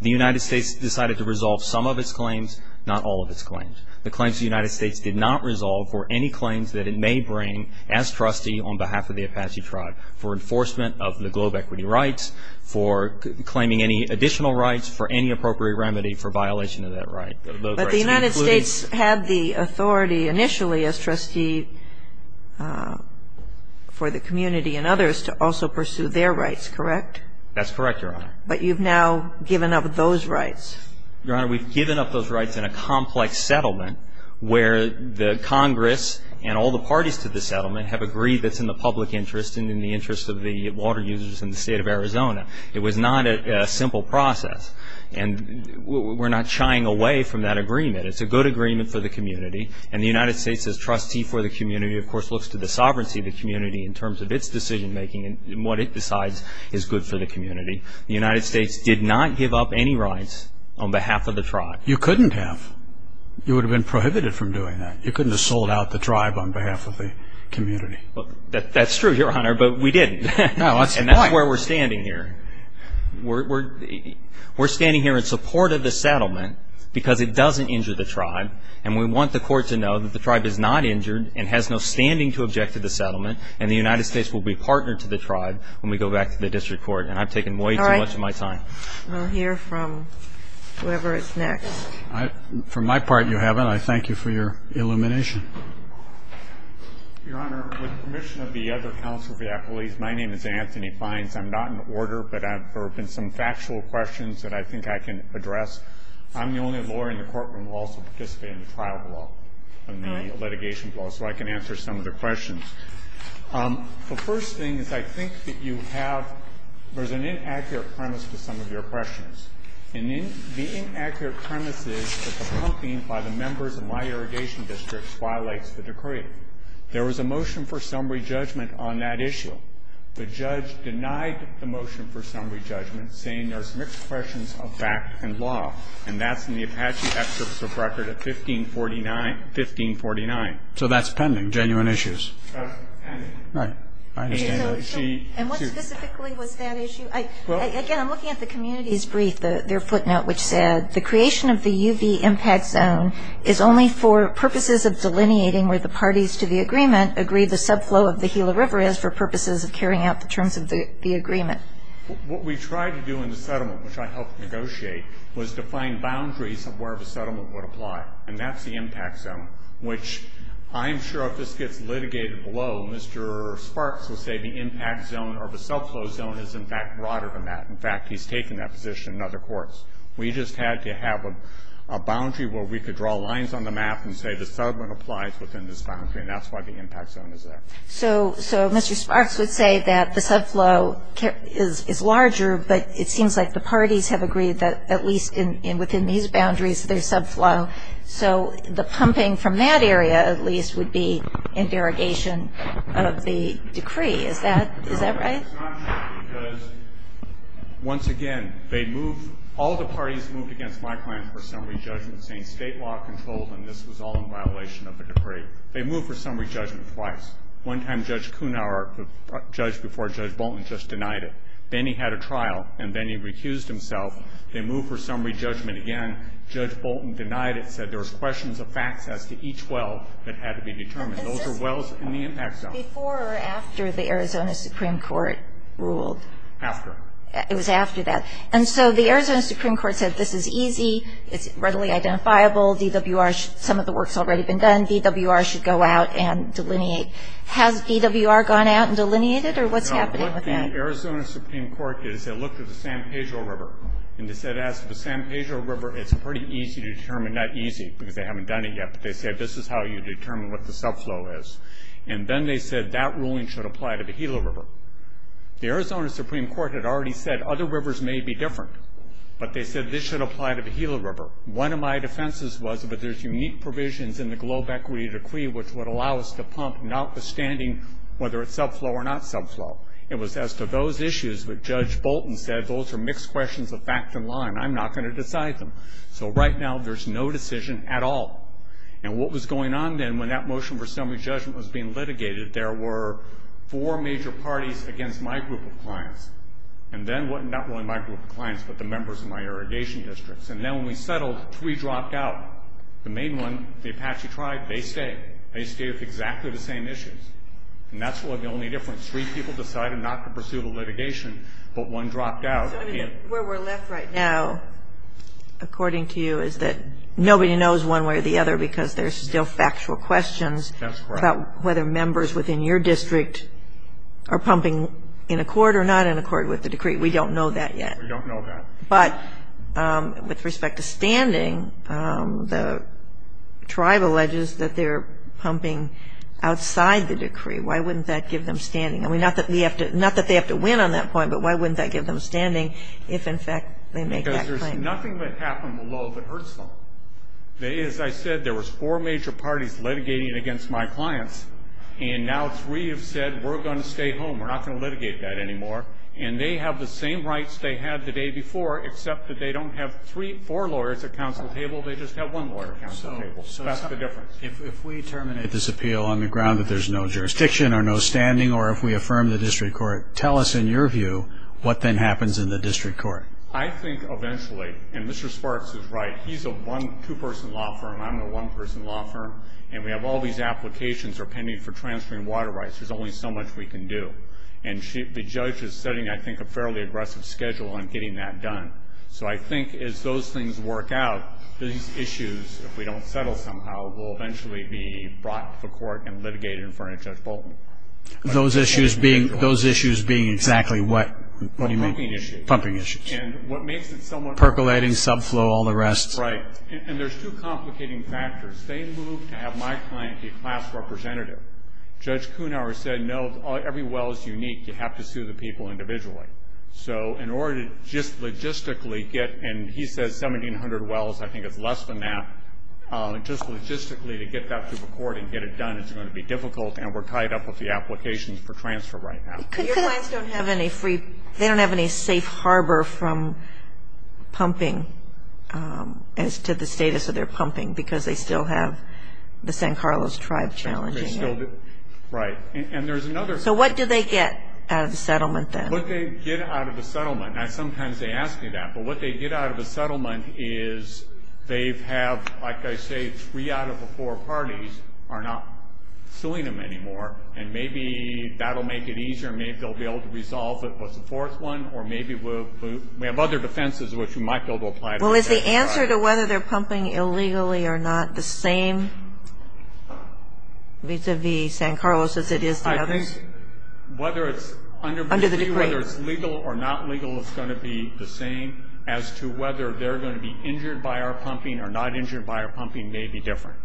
The United States decided to resolve some of its claims, not all of its claims. The claims the United States did not resolve were any claims that it may bring as trustee on behalf of the Apache tribe for enforcement of the globe equity rights, for claiming any additional rights, for any appropriate remedy for violation of that right. But the United States had the authority initially as trustee for the community and others to also pursue their rights, correct? That's correct, Your Honor. But you've now given up those rights? Your Honor, we've given up those rights in a complex settlement where the Congress and all the parties to the settlement have agreed that it's in the public interest and in the interest of the water users in the state of Arizona. It was not a simple process. And we're not shying away from that agreement. It's a good agreement for the community. And the United States as trustee for the community, of course, looks to the sovereignty of the community in terms of its decision making and what it decides is good for the community. The United States did not give up any rights on behalf of the tribe. You couldn't have. You would have been prohibited from doing that. You couldn't have sold out the tribe on behalf of the community. That's true, Your Honor, but we didn't. And that's where we're standing here. We're standing here in support of the settlement because it doesn't injure the tribe, and we want the court to know that the tribe is not injured and has no standing to object to the settlement, and the United States will be a partner to the tribe when we go back to the district court. And I've taken way too much of my time. All right. We'll hear from whoever is next. For my part, you haven't. I thank you for your illumination. Your Honor, with the permission of the other counsel, my name is Anthony Fines. I'm not in order, but there have been some factual questions that I think I can address. I'm the only lawyer in the courtroom who also participated in the trial bill, so I can answer some of the questions. The first thing that I think that you have, there's an inaccurate premise to some of your questions, and the inaccurate premise is that the pumping by the members of my irrigation district violates the decree. There was a motion for summary judgment on that issue. The judge denied the motion for summary judgment, saying there's mixed questions of facts and law, and that's in the Apache Excellence of Record of 1549. So that's pending, genuine issues. Right. And what specifically was that issue? Again, I'm looking at the community's brief, their footnote, which said, the creation of the UV impact zone is only for purposes of delineating where the parties to the agreement agree the subflow of the Gila River is for purposes of carrying out the terms of the agreement. What we tried to do in the settlement, which I helped negotiate, was define boundaries of where the settlement would apply, and that's the impact zone, which I'm sure if this gets litigated below, Mr. Sparks will say the impact zone or the subflow zone is, in fact, broader than that. In fact, he's taken that position in other courts. We just had to have a boundary where we could draw lines on the map and say the settlement applies within this boundary, and that's why the impact zone is there. So Mr. Sparks would say that the subflow is larger, but it seems like the parties have agreed that at least within these boundaries there's subflow. So the pumping from that area, at least, would be in variegation of the decree. Is that right? Once again, all the parties moved against my plan for summary judgment saying state law controls, and this was all in violation of the decree. They moved for summary judgment twice. One time Judge Kuhnhauer judged before Judge Bolton just denied it. Then he had a trial, and then he recused himself. They moved for summary judgment again. Judge Bolton denied it, said there was questions of access to each well that had to be determined. Those were wells in the impact zone. Before or after the Arizona Supreme Court ruled? After. It was after that. And so the Arizona Supreme Court said this is easy, readily identifiable, DWR, some of the work's already been done, DWR should go out and delineate. Has DWR gone out and delineated, or what's happening with that? No, what the Arizona Supreme Court did is they looked at the San Pedro River, and they said after the San Pedro River it's pretty easy to determine, not easy, because they haven't done it yet, but they said this is how you determine what the subflow is. And then they said that ruling should apply to the Gila River. The Arizona Supreme Court had already said other rivers may be different, but they said this should apply to the Gila River. One of my defenses was that there's unique provisions in the Globe Equity Decree which would allow us to pump notwithstanding whether it's subflow or not subflow. It was as to those issues that Judge Bolton said, those are mixed questions of fact and law, and I'm not going to decide them. So right now there's no decision at all. And what was going on then when that motion for summary judgment was being litigated, there were four major parties against my group of clients, and then not really my group of clients but the members of my irrigation districts. And then when we settled, three dropped out. The main one, the Apache tribe, they stayed. They stayed with exactly the same issues. And that's the only difference. Three people decided not to pursue the litigation, but one dropped out. Where we're left right now, according to you, is that nobody knows one way or the other because there's still factual questions about whether members within your district are pumping in accord or not in accord with the decree. We don't know that yet. We don't know that. But with respect to standing, the tribe alleges that they're pumping outside the decree. Why wouldn't that give them standing? I mean, not that they have to win on that point, but why wouldn't that give them standing if, in fact, they make that claim? Because there's nothing that happened below that hurts them. As I said, there was four major parties litigating against my clients, and now three have said we're going to stay home, we're not going to litigate that anymore. And they have the same rights they had the day before, except that they don't have four lawyers at the council table. They just have one lawyer at the council table. So that's the difference. If we terminate this appeal on the ground that there's no jurisdiction or no standing, or if we affirm the district court, tell us, in your view, what then happens in the district court. I think eventually, and Mr. Sparks is right, he's a two-person law firm, I'm a one-person law firm, and we have all these applications that are pending for transferring water rights. There's only so much we can do. And the judge is setting, I think, a fairly aggressive schedule on getting that done. So I think as those things work out, these issues, if we don't settle somehow, will eventually be brought to court and litigated in front of Judge Bolton. Those issues being exactly what? What do you mean? Pumping issues. Pumping issues. And what makes it so much more complicated. Percolating, subflow, all the rest. Right. And there's two complicating factors. They moved to have my client be class representative. Judge Kuhnhauer said, no, every well is unique. You have to sue the people individually. So in order to just logistically get, and he said 1,700 wells. I think it's less than that. Just logistically to get that to the court and get it done is going to be difficult, and we're tied up with the applications for transfer right now. Your clients don't have any free, they don't have any safe harbor from pumping as to the status of their pumping because they still have the San Carlos tribe challenging them. Right. And there's another thing. So what do they get out of the settlement then? What they get out of the settlement, and sometimes they ask you that, but what they get out of the settlement is they have, like I say, three out of the four parties are not suing them anymore, and maybe that will make it easier. Maybe they'll be able to resolve it with the fourth one, or maybe we have other defenses which we might be able to apply to them. Well, is the answer to whether they're pumping illegally or not the same vis-a-vis San Carlos as it is the other? I think whether it's legal or not legal is going to be the same. As to whether they're going to be injured by our pumping or not injured by our pumping may be different.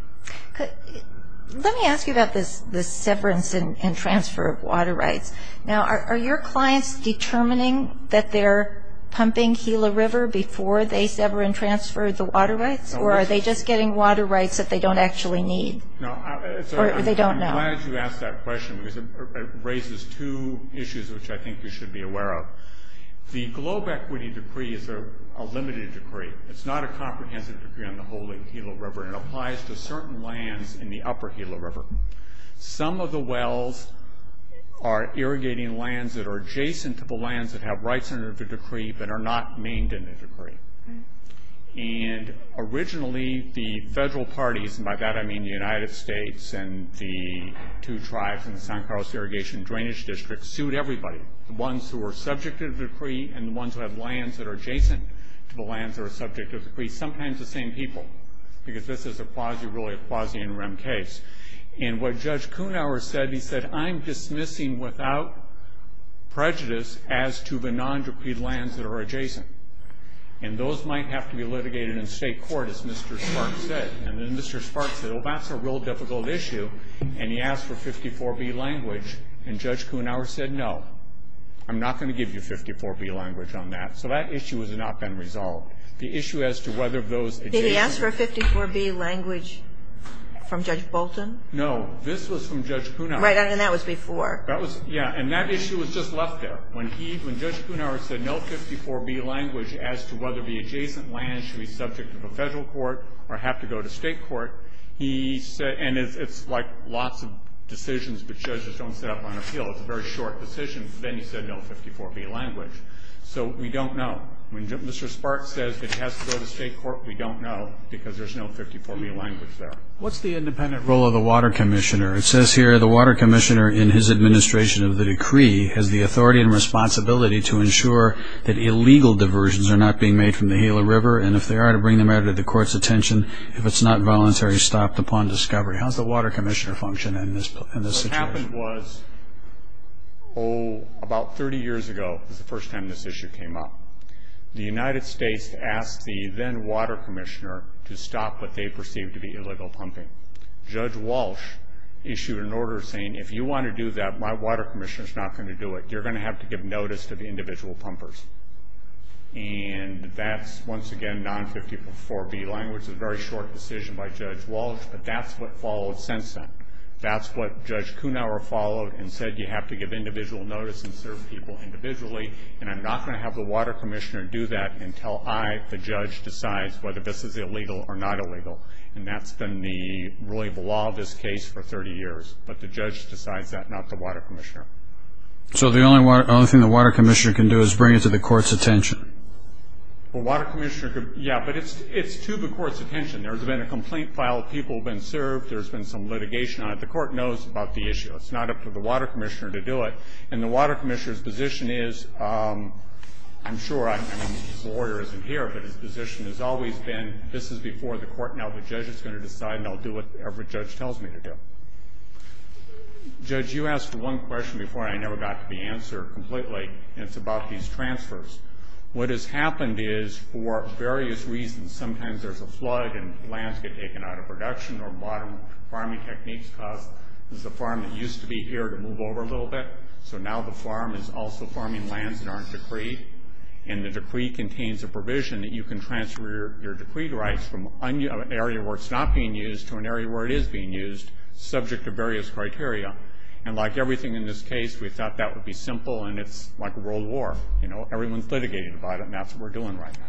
Let me ask you about the severance and transfer of water rights. Now, are your clients determining that they're pumping Gila River before they sever and transfer the water rights, or are they just getting water rights that they don't actually need or they don't know? I'm glad you asked that question because it raises two issues which I think we should be aware of. The globe equity decree is a limited decree. It's not a comprehensive decree on the whole of Gila River. It applies to certain lands in the upper Gila River. Some of the wells are irrigating lands that are adjacent to the lands that have rights under the decree that are not maimed in the decree. And originally, the federal parties, and by that I mean the United States and the two tribes in the San Carlos Irrigation and Drainage District sued everybody, the ones who were subject to the decree and the ones that have lands that are adjacent to the land that are subject to the decree, sometimes the same people, because this is a quasi, really a quasi interim case. And what Judge Kuhnhauer said, he said, I'm dismissing without prejudice as to the non-decreed lands that are adjacent. And those might have to be litigated in state court, as Mr. Sparks said. And then Mr. Sparks said, well, that's a real difficult issue, and he asked for 54B language. And Judge Kuhnhauer said, no, I'm not going to give you 54B language on that. So that issue has not been resolved. The issue as to whether those adjacent- Did he ask for 54B language from Judge Bolton? No, this was from Judge Kuhnhauer. Right, and that was before. Yeah, and that issue was just left there. When Judge Kuhnhauer said no 54B language as to whether the adjacent land should be subject to the federal court or have to go to state court, he said, and it's like lots of decisions which judges don't set up on appeal, it's a very short decision, then he said no 54B language. So we don't know. When Mr. Sparks says it has to go to state court, we don't know because there's no 54B language there. What's the independent role of the water commissioner? It says here the water commissioner, in his administration of the decree, has the authority and responsibility to ensure that illegal diversions are not being made from the Gila River, and if they are, to bring them out of the court's attention. If it's not voluntary, stopped upon discovery. How does the water commissioner function in this situation? The question was, oh, about 30 years ago was the first time this issue came up. The United States asked the then water commissioner to stop what they perceived to be illegal pumping. Judge Walsh issued an order saying if you want to do that, my water commissioner is not going to do it. You're going to have to give notice to the individual pumpers. And that's, once again, non 54B language, a very short decision by Judge Walsh, but that's what followed since then. That's what Judge Kunauer followed and said you have to give individual notice and serve people individually, and I'm not going to have the water commissioner do that until I, the judge, decides whether this is illegal or not illegal. And that's been the ruling of the law in this case for 30 years. But the judge decides that, not the water commissioner. So the only thing the water commissioner can do is bring it to the court's attention? The water commissioner can, yeah, but it's to the court's attention. There's been a complaint filed. People have been served. There's been some litigation on it. The court knows about the issue. It's not up to the water commissioner to do it. And the water commissioner's position is, I'm sure, I mean the order isn't here, but his position has always been this is before the court, now the judge is going to decide and I'll do whatever the judge tells me to do. Judge, you asked one question before and I never got the answer completely, and it's about these transfers. What has happened is, for various reasons, sometimes there's a flood and lands get taken out of production. There are modern farming techniques. There's a farm that used to be here to move over a little bit. So now the farm is also farming lands that aren't decreed. And the decree contains a provision that you can transfer your decreed rights from an area where it's not being used to an area where it is being used, subject to various criteria. And like everything in this case, we thought that would be simple and it's like a world war. You know, everyone's litigating about it and that's what we're doing right now.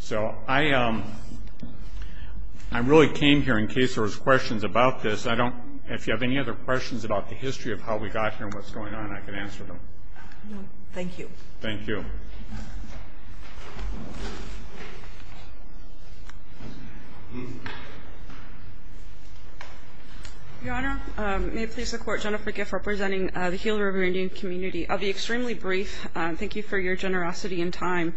So I really came here in case there was questions about this. If you have any other questions about the history of how we got here and what's going on, I can answer them. Thank you. Thank you. Your Honor, may it please the Court, Jennifer Giff representing the Gila River Indian Community. I'll be extremely brief. Thank you for your generosity and time.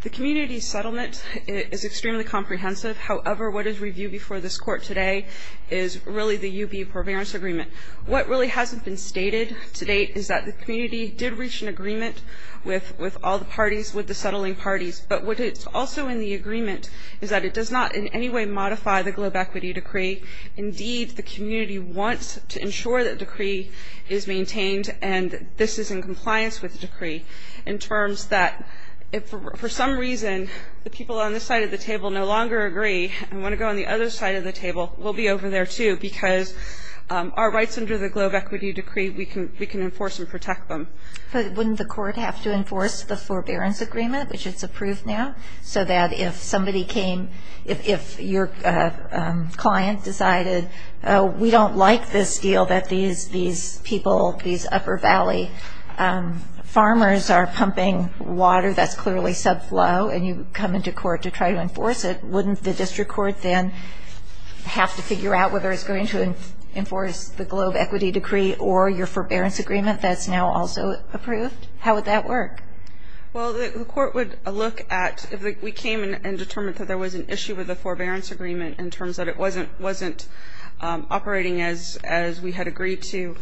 The community settlement is extremely comprehensive. However, what is reviewed before this Court today is really the UB forbearance agreement. What really hasn't been stated to date is that the community did reach an agreement with all the parties, with the settling parties. But what is also in the agreement is that it does not in any way modify the globe equity decree. Indeed, the community wants to ensure that decree is maintained and this is in compliance with the decree in terms that if for some reason the people on this side of the table no longer agree and want to go on the other side of the table, we'll be over there too because our rights under the globe equity decree, we can enforce and protect them. So wouldn't the Court have to enforce the forbearance agreement, which is approved now, so that if somebody came, if your client decided we don't like this deal that these people, these upper valley farmers are pumping water that's clearly subflow and you come into court to try to enforce it, wouldn't the district court then have to figure out whether it's going to enforce the globe equity decree or your forbearance agreement that's now also approved? How would that work? Well, the court would look at if we came and determined that there was an issue with the forbearance agreement in terms that it wasn't operating as we had agreed to,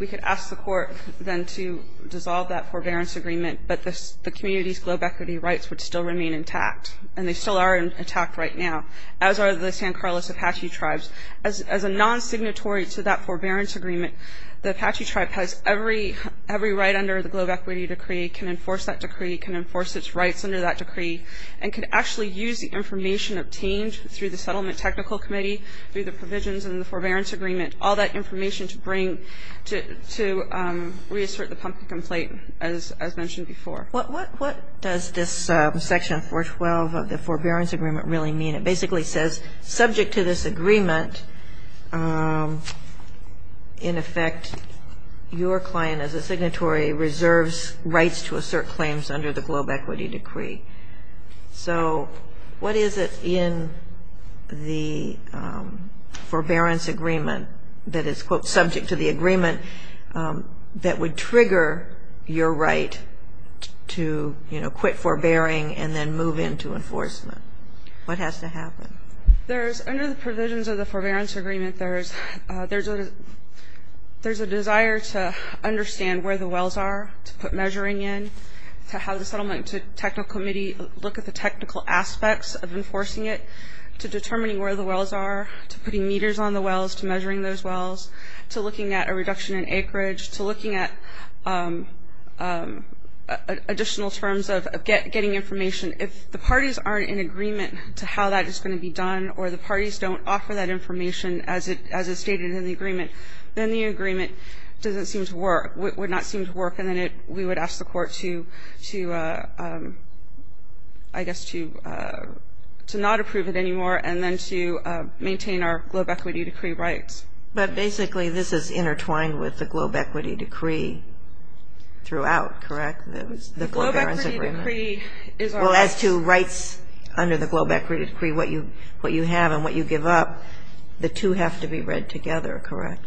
we could ask the court then to dissolve that forbearance agreement but the community's globe equity rights would still remain intact, and they still are intact right now, as are the San Carlos Apache tribes. As a non-signatory to that forbearance agreement, the Apache tribe has every right under the globe equity decree, can enforce that decree, can enforce its rights under that decree, and can actually use the information obtained through the settlement technical committee, through the provisions in the forbearance agreement, all that information to bring, to reassert the pumping complaint as mentioned before. What does this section 412 of the forbearance agreement really mean? It basically says subject to this agreement, in effect, your client as a signatory reserves rights to assert claims under the globe equity decree. So what is it in the forbearance agreement that is, quote, subject to the agreement that would trigger your right to, you know, quit forbearing and then move into enforcement? What has to happen? There's, under the provisions of the forbearance agreement, there's a desire to understand where the wells are, to put measuring in, to have the settlement technical committee look at the technical aspects of enforcing it, to determining where the wells are, to putting meters on the wells, to measuring those wells, to looking at a reduction in acreage, to looking at additional terms of getting information. If the parties aren't in agreement to how that is going to be done or the parties don't offer that information as it's stated in the agreement, then the agreement doesn't seem to work, would not seem to work, and then we would ask the court to, I guess, to not approve it anymore and then to maintain our globe equity decree rights. But basically this is intertwined with the globe equity decree throughout, correct? The globe equity decree is our rights. Well, as to rights under the globe equity decree, what you have and what you give up, the two have to be read together, correct?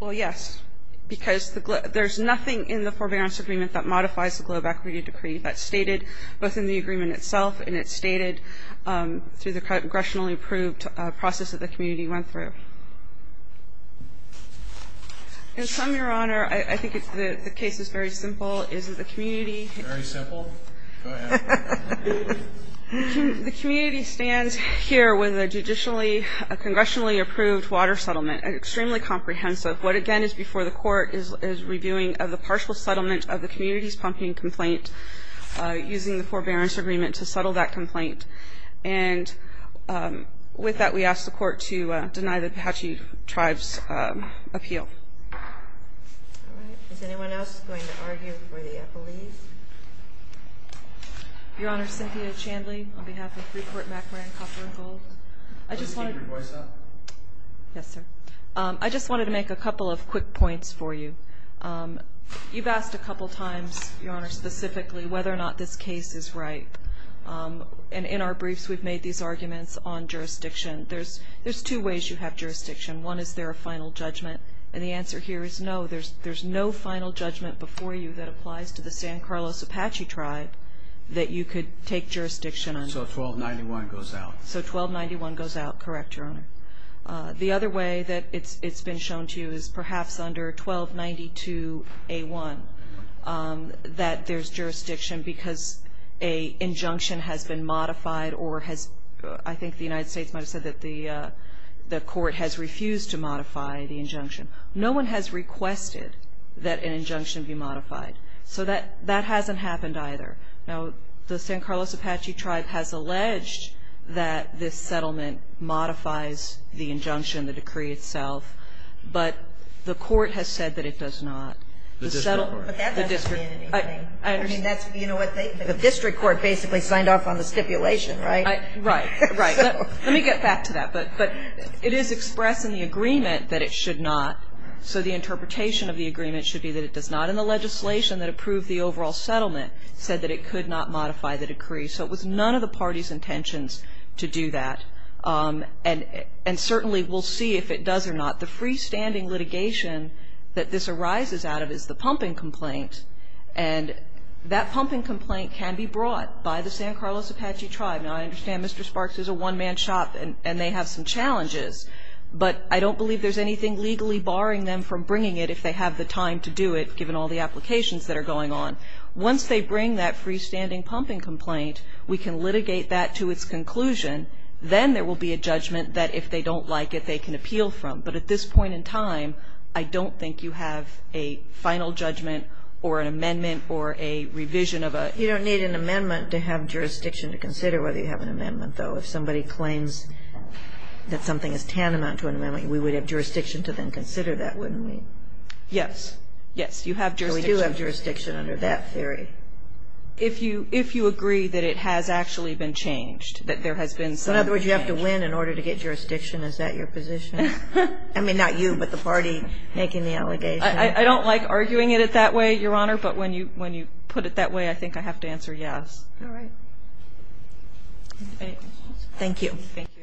Well, yes, because there's nothing in the forbearance agreement that modifies the globe equity decree. That's stated both in the agreement itself and it's stated through the congressionally approved process that the community went through. And, Tom, Your Honor, I think the case is very simple. It's the community. Very simple? Go ahead. The community stands here with a congressionally approved water settlement. It's extremely comprehensive. What, again, is before the court is redoing of the partial settlement of the community's pumping complaint using the forbearance agreement to settle that complaint. And with that, we ask the court to deny the Apache Tribes' appeal. All right. Is anyone else going to argue for the affidavit? Your Honor, Cynthia Chandley, on behalf of three-court background counsel. I just wanted to make a couple of quick points for you. You've asked a couple of times, Your Honor, specifically whether or not this case is right. And in our briefs, we've made these arguments on jurisdiction. There's two ways you have jurisdiction. One, is there a final judgment? And the answer here is no. There's no final judgment before you that applies to the San Carlos Apache Tribe that you could take jurisdiction on. So 1291 goes out. So 1291 goes out. Correct, Your Honor. The other way that it's been shown to you is perhaps under 1292A1 that there's jurisdiction because an injunction has been modified or has – I think the United States might have said that the court has refused to modify the injunction. No one has requested that an injunction be modified. So that hasn't happened either. Now, the San Carlos Apache Tribe has alleged that this settlement modifies the injunction, the decree itself. But the court has said that it does not. The district court. That's a community thing. I mean, that's – you know what they – the district court basically signed off on the stipulation, right? Right, right. Let me get back to that. But it is expressed in the agreement that it should not. So the interpretation of the agreement should be that it does not. And the legislation that approved the overall settlement said that it could not modify the decree. So it was none of the party's intentions to do that. And certainly we'll see if it does or not. The freestanding litigation that this arises out of is the pumping complaint. And that pumping complaint can be brought by the San Carlos Apache Tribe. Now, I understand Mr. Sparks is a one-man shop and they have some challenges. But I don't believe there's anything legally barring them from bringing it if they have the time to do it, given all the applications that are going on. Once they bring that freestanding pumping complaint, we can litigate that to its conclusion. Then there will be a judgment that if they don't like it, they can appeal from. But at this point in time, I don't think you have a final judgment or an amendment or a revision of a ---- You don't need an amendment to have jurisdiction to consider whether you have an amendment, though. If somebody claims that something is tantamount to an amendment, we would have jurisdiction to then consider that, wouldn't we? Yes. Yes. You have jurisdiction. We do have jurisdiction under that theory. If you agree that it has actually been changed, that there has been some ---- In other words, you have to win in order to get jurisdiction. Is that your position? I mean, not you, but the party making the allegation. I don't like arguing it that way, Your Honor, but when you put it that way, I think I have to answer yes. All right. Thank you. Thank you. Thank you.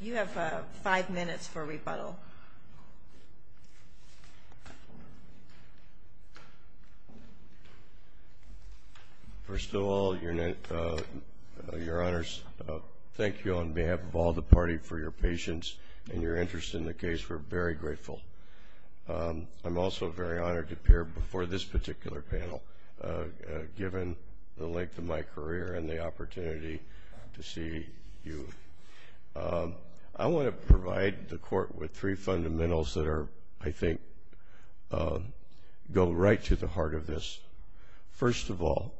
You have five minutes for rebuttal. First of all, Your Honors, thank you on behalf of all the party for your patience and your interest in the case. We're very grateful. I'm also very honored to appear before this particular panel, given the length of my career and the opportunity to see you. I want to provide the Court with three fundamentals that are, I think, go right to the heart of this. First of all,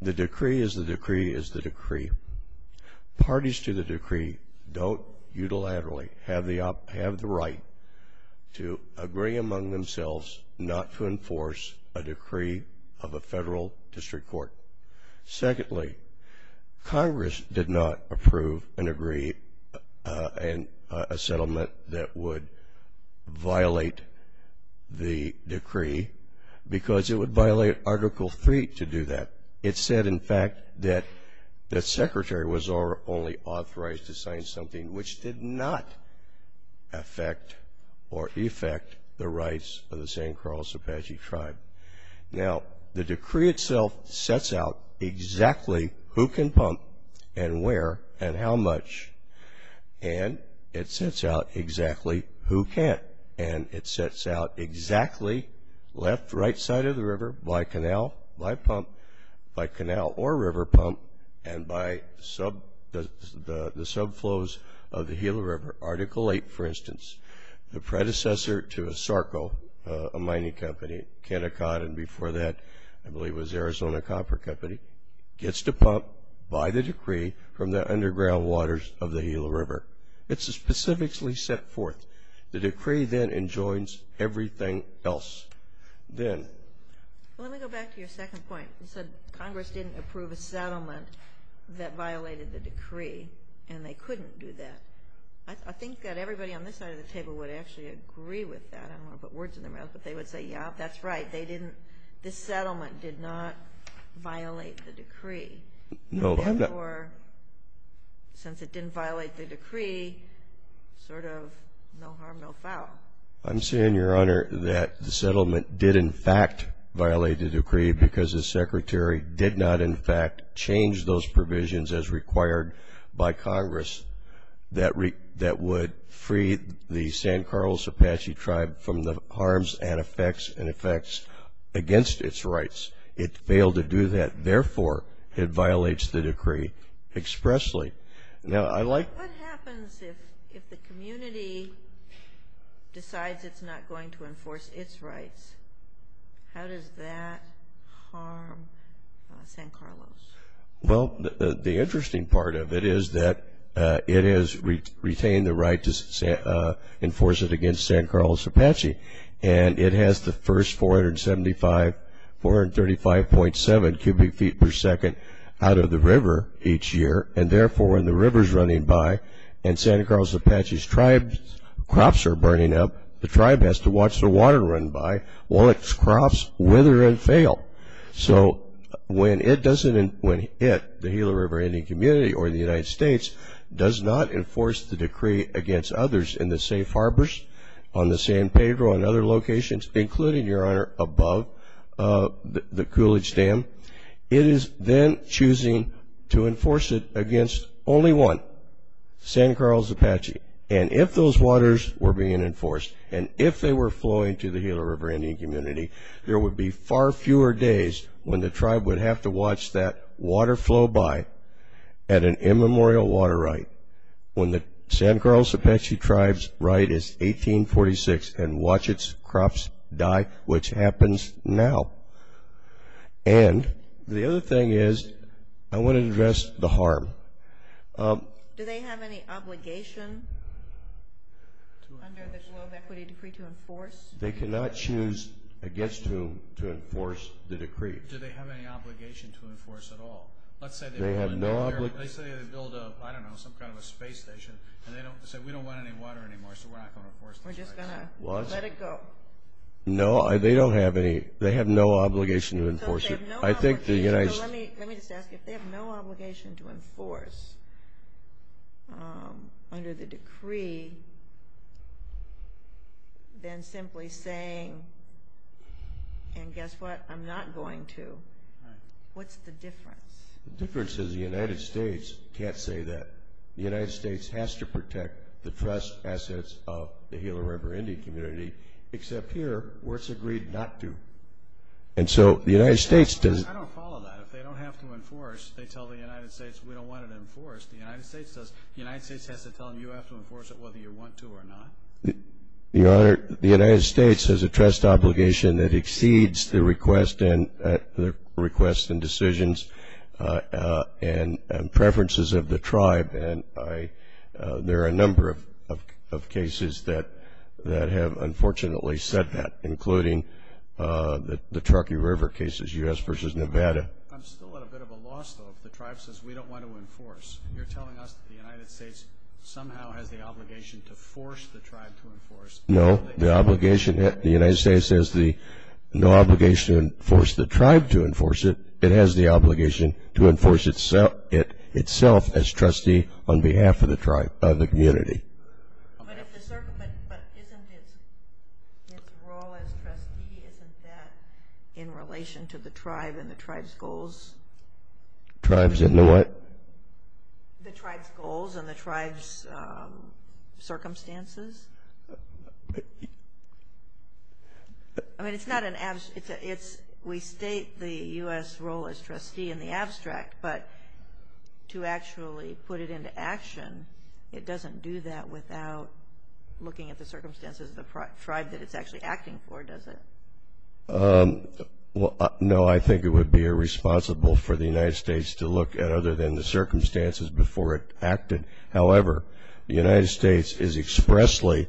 the decree is the decree is the decree. Parties to the decree don't unilaterally have the right to agree among themselves not to enforce a decree of a federal district court. Secondly, Congress did not approve and agree a settlement that would violate the decree because it would violate Article III to do that. It said, in fact, that the Secretary was only authorized to sign something which did not affect or effect the rights of the San Carlos Apache Tribe. Now, the decree itself sets out exactly who can pump and where and how much. And it sets out exactly who can't. And it sets out exactly left, right side of the river by canal, by pump, by canal or river pump, and by the subflows of the Gila River. Article VIII, for instance, the predecessor to ASARCO, a mining company, Kennecott, and before that, I believe it was Arizona Copper Company, gets to pump by the decree from the underground waters of the Gila River. It's specifically set forth. The decree then enjoins everything else. Well, let me go back to your second point. You said Congress didn't approve a settlement that violated the decree and they couldn't do that. I think that everybody on this side of the table would actually agree with that. I don't want to put words in their mouths, but they would say, yeah, that's right. They didn't – this settlement did not violate the decree. And therefore, since it didn't violate the decree, sort of no harm, no foul. I'm saying, Your Honor, that the settlement did in fact violate the decree because the Secretary did not in fact change those provisions as required by Congress that would free the San Carlos Apache Tribe from the harms and effects against its rights. It failed to do that. Therefore, it violates the decree expressly. What happens if the community decides it's not going to enforce its rights? How does that harm San Carlos? Well, the interesting part of it is that it has retained the right to enforce it against San Carlos Apache, and it has the first 435.7 cubic feet per second out of the river each year, and therefore when the river's running by and San Carlos Apache's crops are burning up, the tribe has to watch the water run by while its crops wither and fail. So when it doesn't – when it, the Gila River Indian Community or the United States, does not enforce the decree against others in the safe harbors, on the San Pedro, and other locations, including, Your Honor, above the Coolidge Dam, it is then choosing to enforce it against only one, San Carlos Apache. And if those waters were being enforced, and if they were flowing to the Gila River Indian Community, there would be far fewer days when the tribe would have to watch that water flow by at an immemorial water right when the San Carlos Apache Tribe's right is 1846 and watch its crops die, which happens now. And the other thing is, I want to address the harm. Do they have any obligation under the flow of equity decree to enforce? They cannot choose against whom to enforce the decree. Do they have any obligation to enforce at all? They have no obligation. Let's say they build a, I don't know, some kind of a space station, and they say we don't want any water anymore, so we're not going to enforce the decree. We're just done. Let it go. No, they don't have any. They have no obligation to enforce it. Let me just ask, if they have no obligation to enforce under the decree, then simply saying, and guess what, I'm not going to, what's the difference? The difference is the United States can't say that. The United States has to protect the trust assets of the Gila River Indian Community except here where it's agreed not to. And so the United States does. I don't follow that. If they don't have to enforce, they tell the United States we don't want it enforced. The United States has to tell the U.S. to enforce it whether you want to or not? The United States has a trust obligation that exceeds the request and decisions and preferences of the tribe. There are a number of cases that have unfortunately said that, including the Truckee River cases, U.S. versus Nevada. I'm still at a bit of a loss, though, if the tribe says we don't want to enforce. You're telling us the United States somehow has the obligation to force the tribe to enforce. No, the obligation, the United States has no obligation to force the tribe to enforce it. It has the obligation to enforce itself as trustee on behalf of the tribe, of the community. But isn't his role as trustee, isn't that in relation to the tribe and the tribe's goals? Tribes in what? The tribe's goals and the tribe's circumstances. I mean, it's not an abstract. We state the U.S. role as trustee in the abstract, but to actually put it into action, it doesn't do that without looking at the circumstances of the tribe that it's actually acting for, does it? No, I think it would be irresponsible for the United States to look at other than the circumstances before it acted. However, the United States is expressly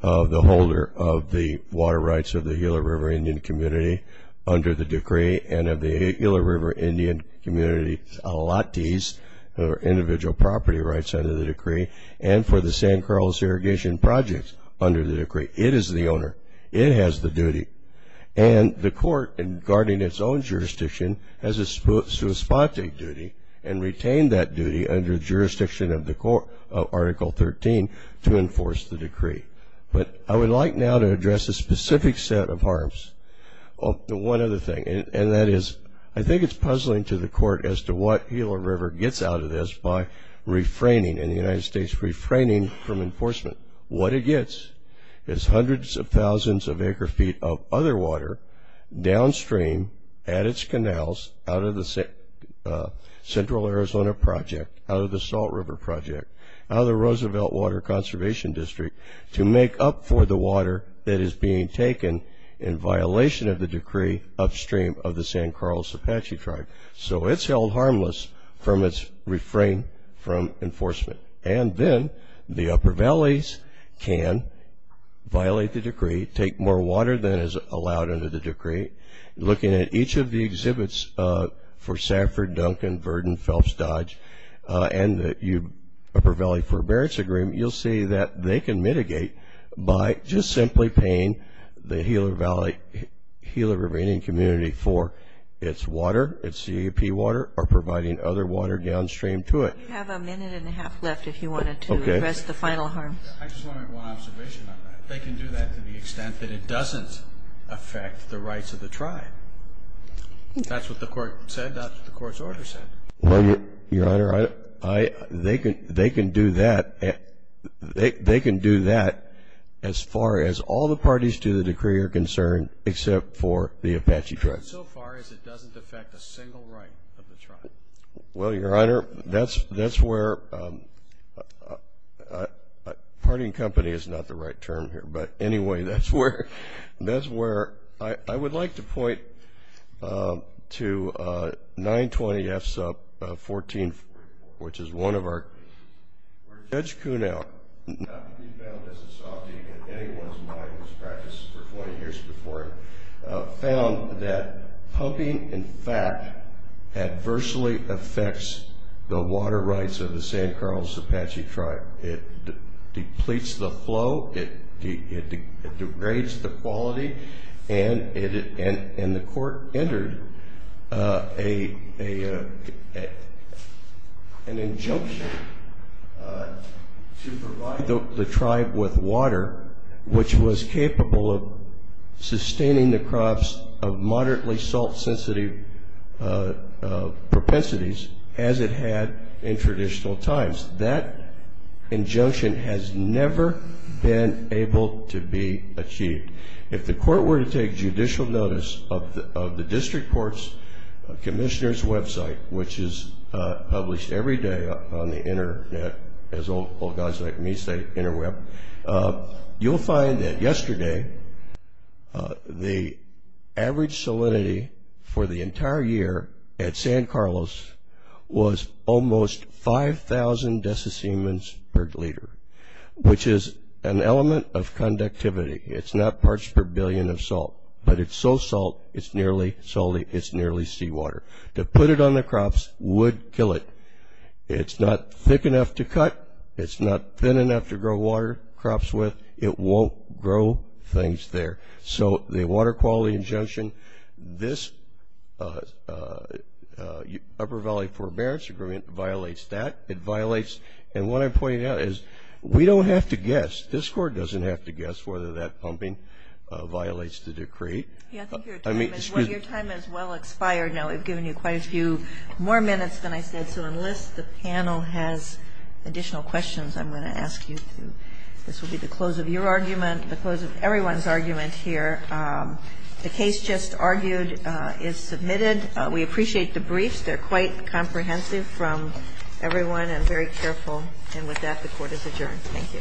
the holder of the water rights of the Gila River Indian community under the decree and of the Gila River Indian community allottees, their individual property rights under the decree, and for the San Carlos irrigation projects under the decree. It is the owner. It has the duty. And the court, in guarding its own jurisdiction, has a substantive duty and retained that duty under the jurisdiction of Article 13 to enforce the decree. But I would like now to address a specific set of harms. One other thing, and that is I think it's puzzling to the court as to what Gila River gets out of this by refraining, and the United States refraining from enforcement. What it gets is hundreds of thousands of acre feet of other water downstream at its canals out of the Central Arizona project, out of the Salt River project, out of the Roosevelt Water Conservation District, to make up for the water that is being taken in violation of the decree upstream of the San Carlos Apache tribe. So it's held harmless from its refrain from enforcement. And then the Upper Valleys can violate the decree, take more water than is allowed under the decree. Looking at each of the exhibits for Safford, Duncan, Verdon, Phelps Dodge, and the Upper Valley Forbearance Agreement, you'll see that they can mitigate by just simply paying the Gila River Indian community for its water, its CAP water, or providing other water downstream to it. We have a minute and a half left if you wanted to address the final harm. Okay. I just wanted one observation on that. They can do that to the extent that it doesn't affect the rights of the tribe. That's what the court said. That's what the court's order said. Well, Your Honor, they can do that as far as all the parties to the decree are concerned except for the Apache tribes. So far as it doesn't affect a single right of the tribe. Well, Your Honor, that's where partying company is not the right term here. But, anyway, that's where I would like to point to 920F sub 14, which is one of our Judge Kuhnel, not to be found as a sophomore in anyone's mind who's practiced for 20 years before him, found that poking, in fact, adversely affects the water rights of the San Carlos Apache tribe. It depletes the flow, it degrades the quality, and the court entered an injunction to provide the tribe with water, which was capable of sustaining the crops of moderately salt-sensitive propensities as it had in traditional times. That injunction has never been able to be achieved. If the court were to take judicial notice of the district court's commissioner's website, which is published every day on the internet, as all gods like me say, interweb, you'll find that yesterday, the average salinity for the entire year at San Carlos was almost 5,000 decisiemens per liter, which is an element of conductivity. It's not parts per billion of salt, but it's so salt it's nearly seawater. To put it on the crops would kill it. It's not thick enough to cut. It's not thin enough to grow water crops with. It won't grow things there. So the water quality injunction, this Upper Valley Forbearance Agreement violates that. It violates, and what I'm pointing out is we don't have to guess. This court doesn't have to guess whether that pumping violates the decree. Your time has well expired now. We've given you quite a few more minutes than I said to enlist. The panel has additional questions I'm going to ask you. This will be the close of your argument, the close of everyone's argument here. The case just argued is submitted. We appreciate the briefs. They're quite comprehensive from everyone and very careful. And with that, the court is adjourned. Thank you. Thank you.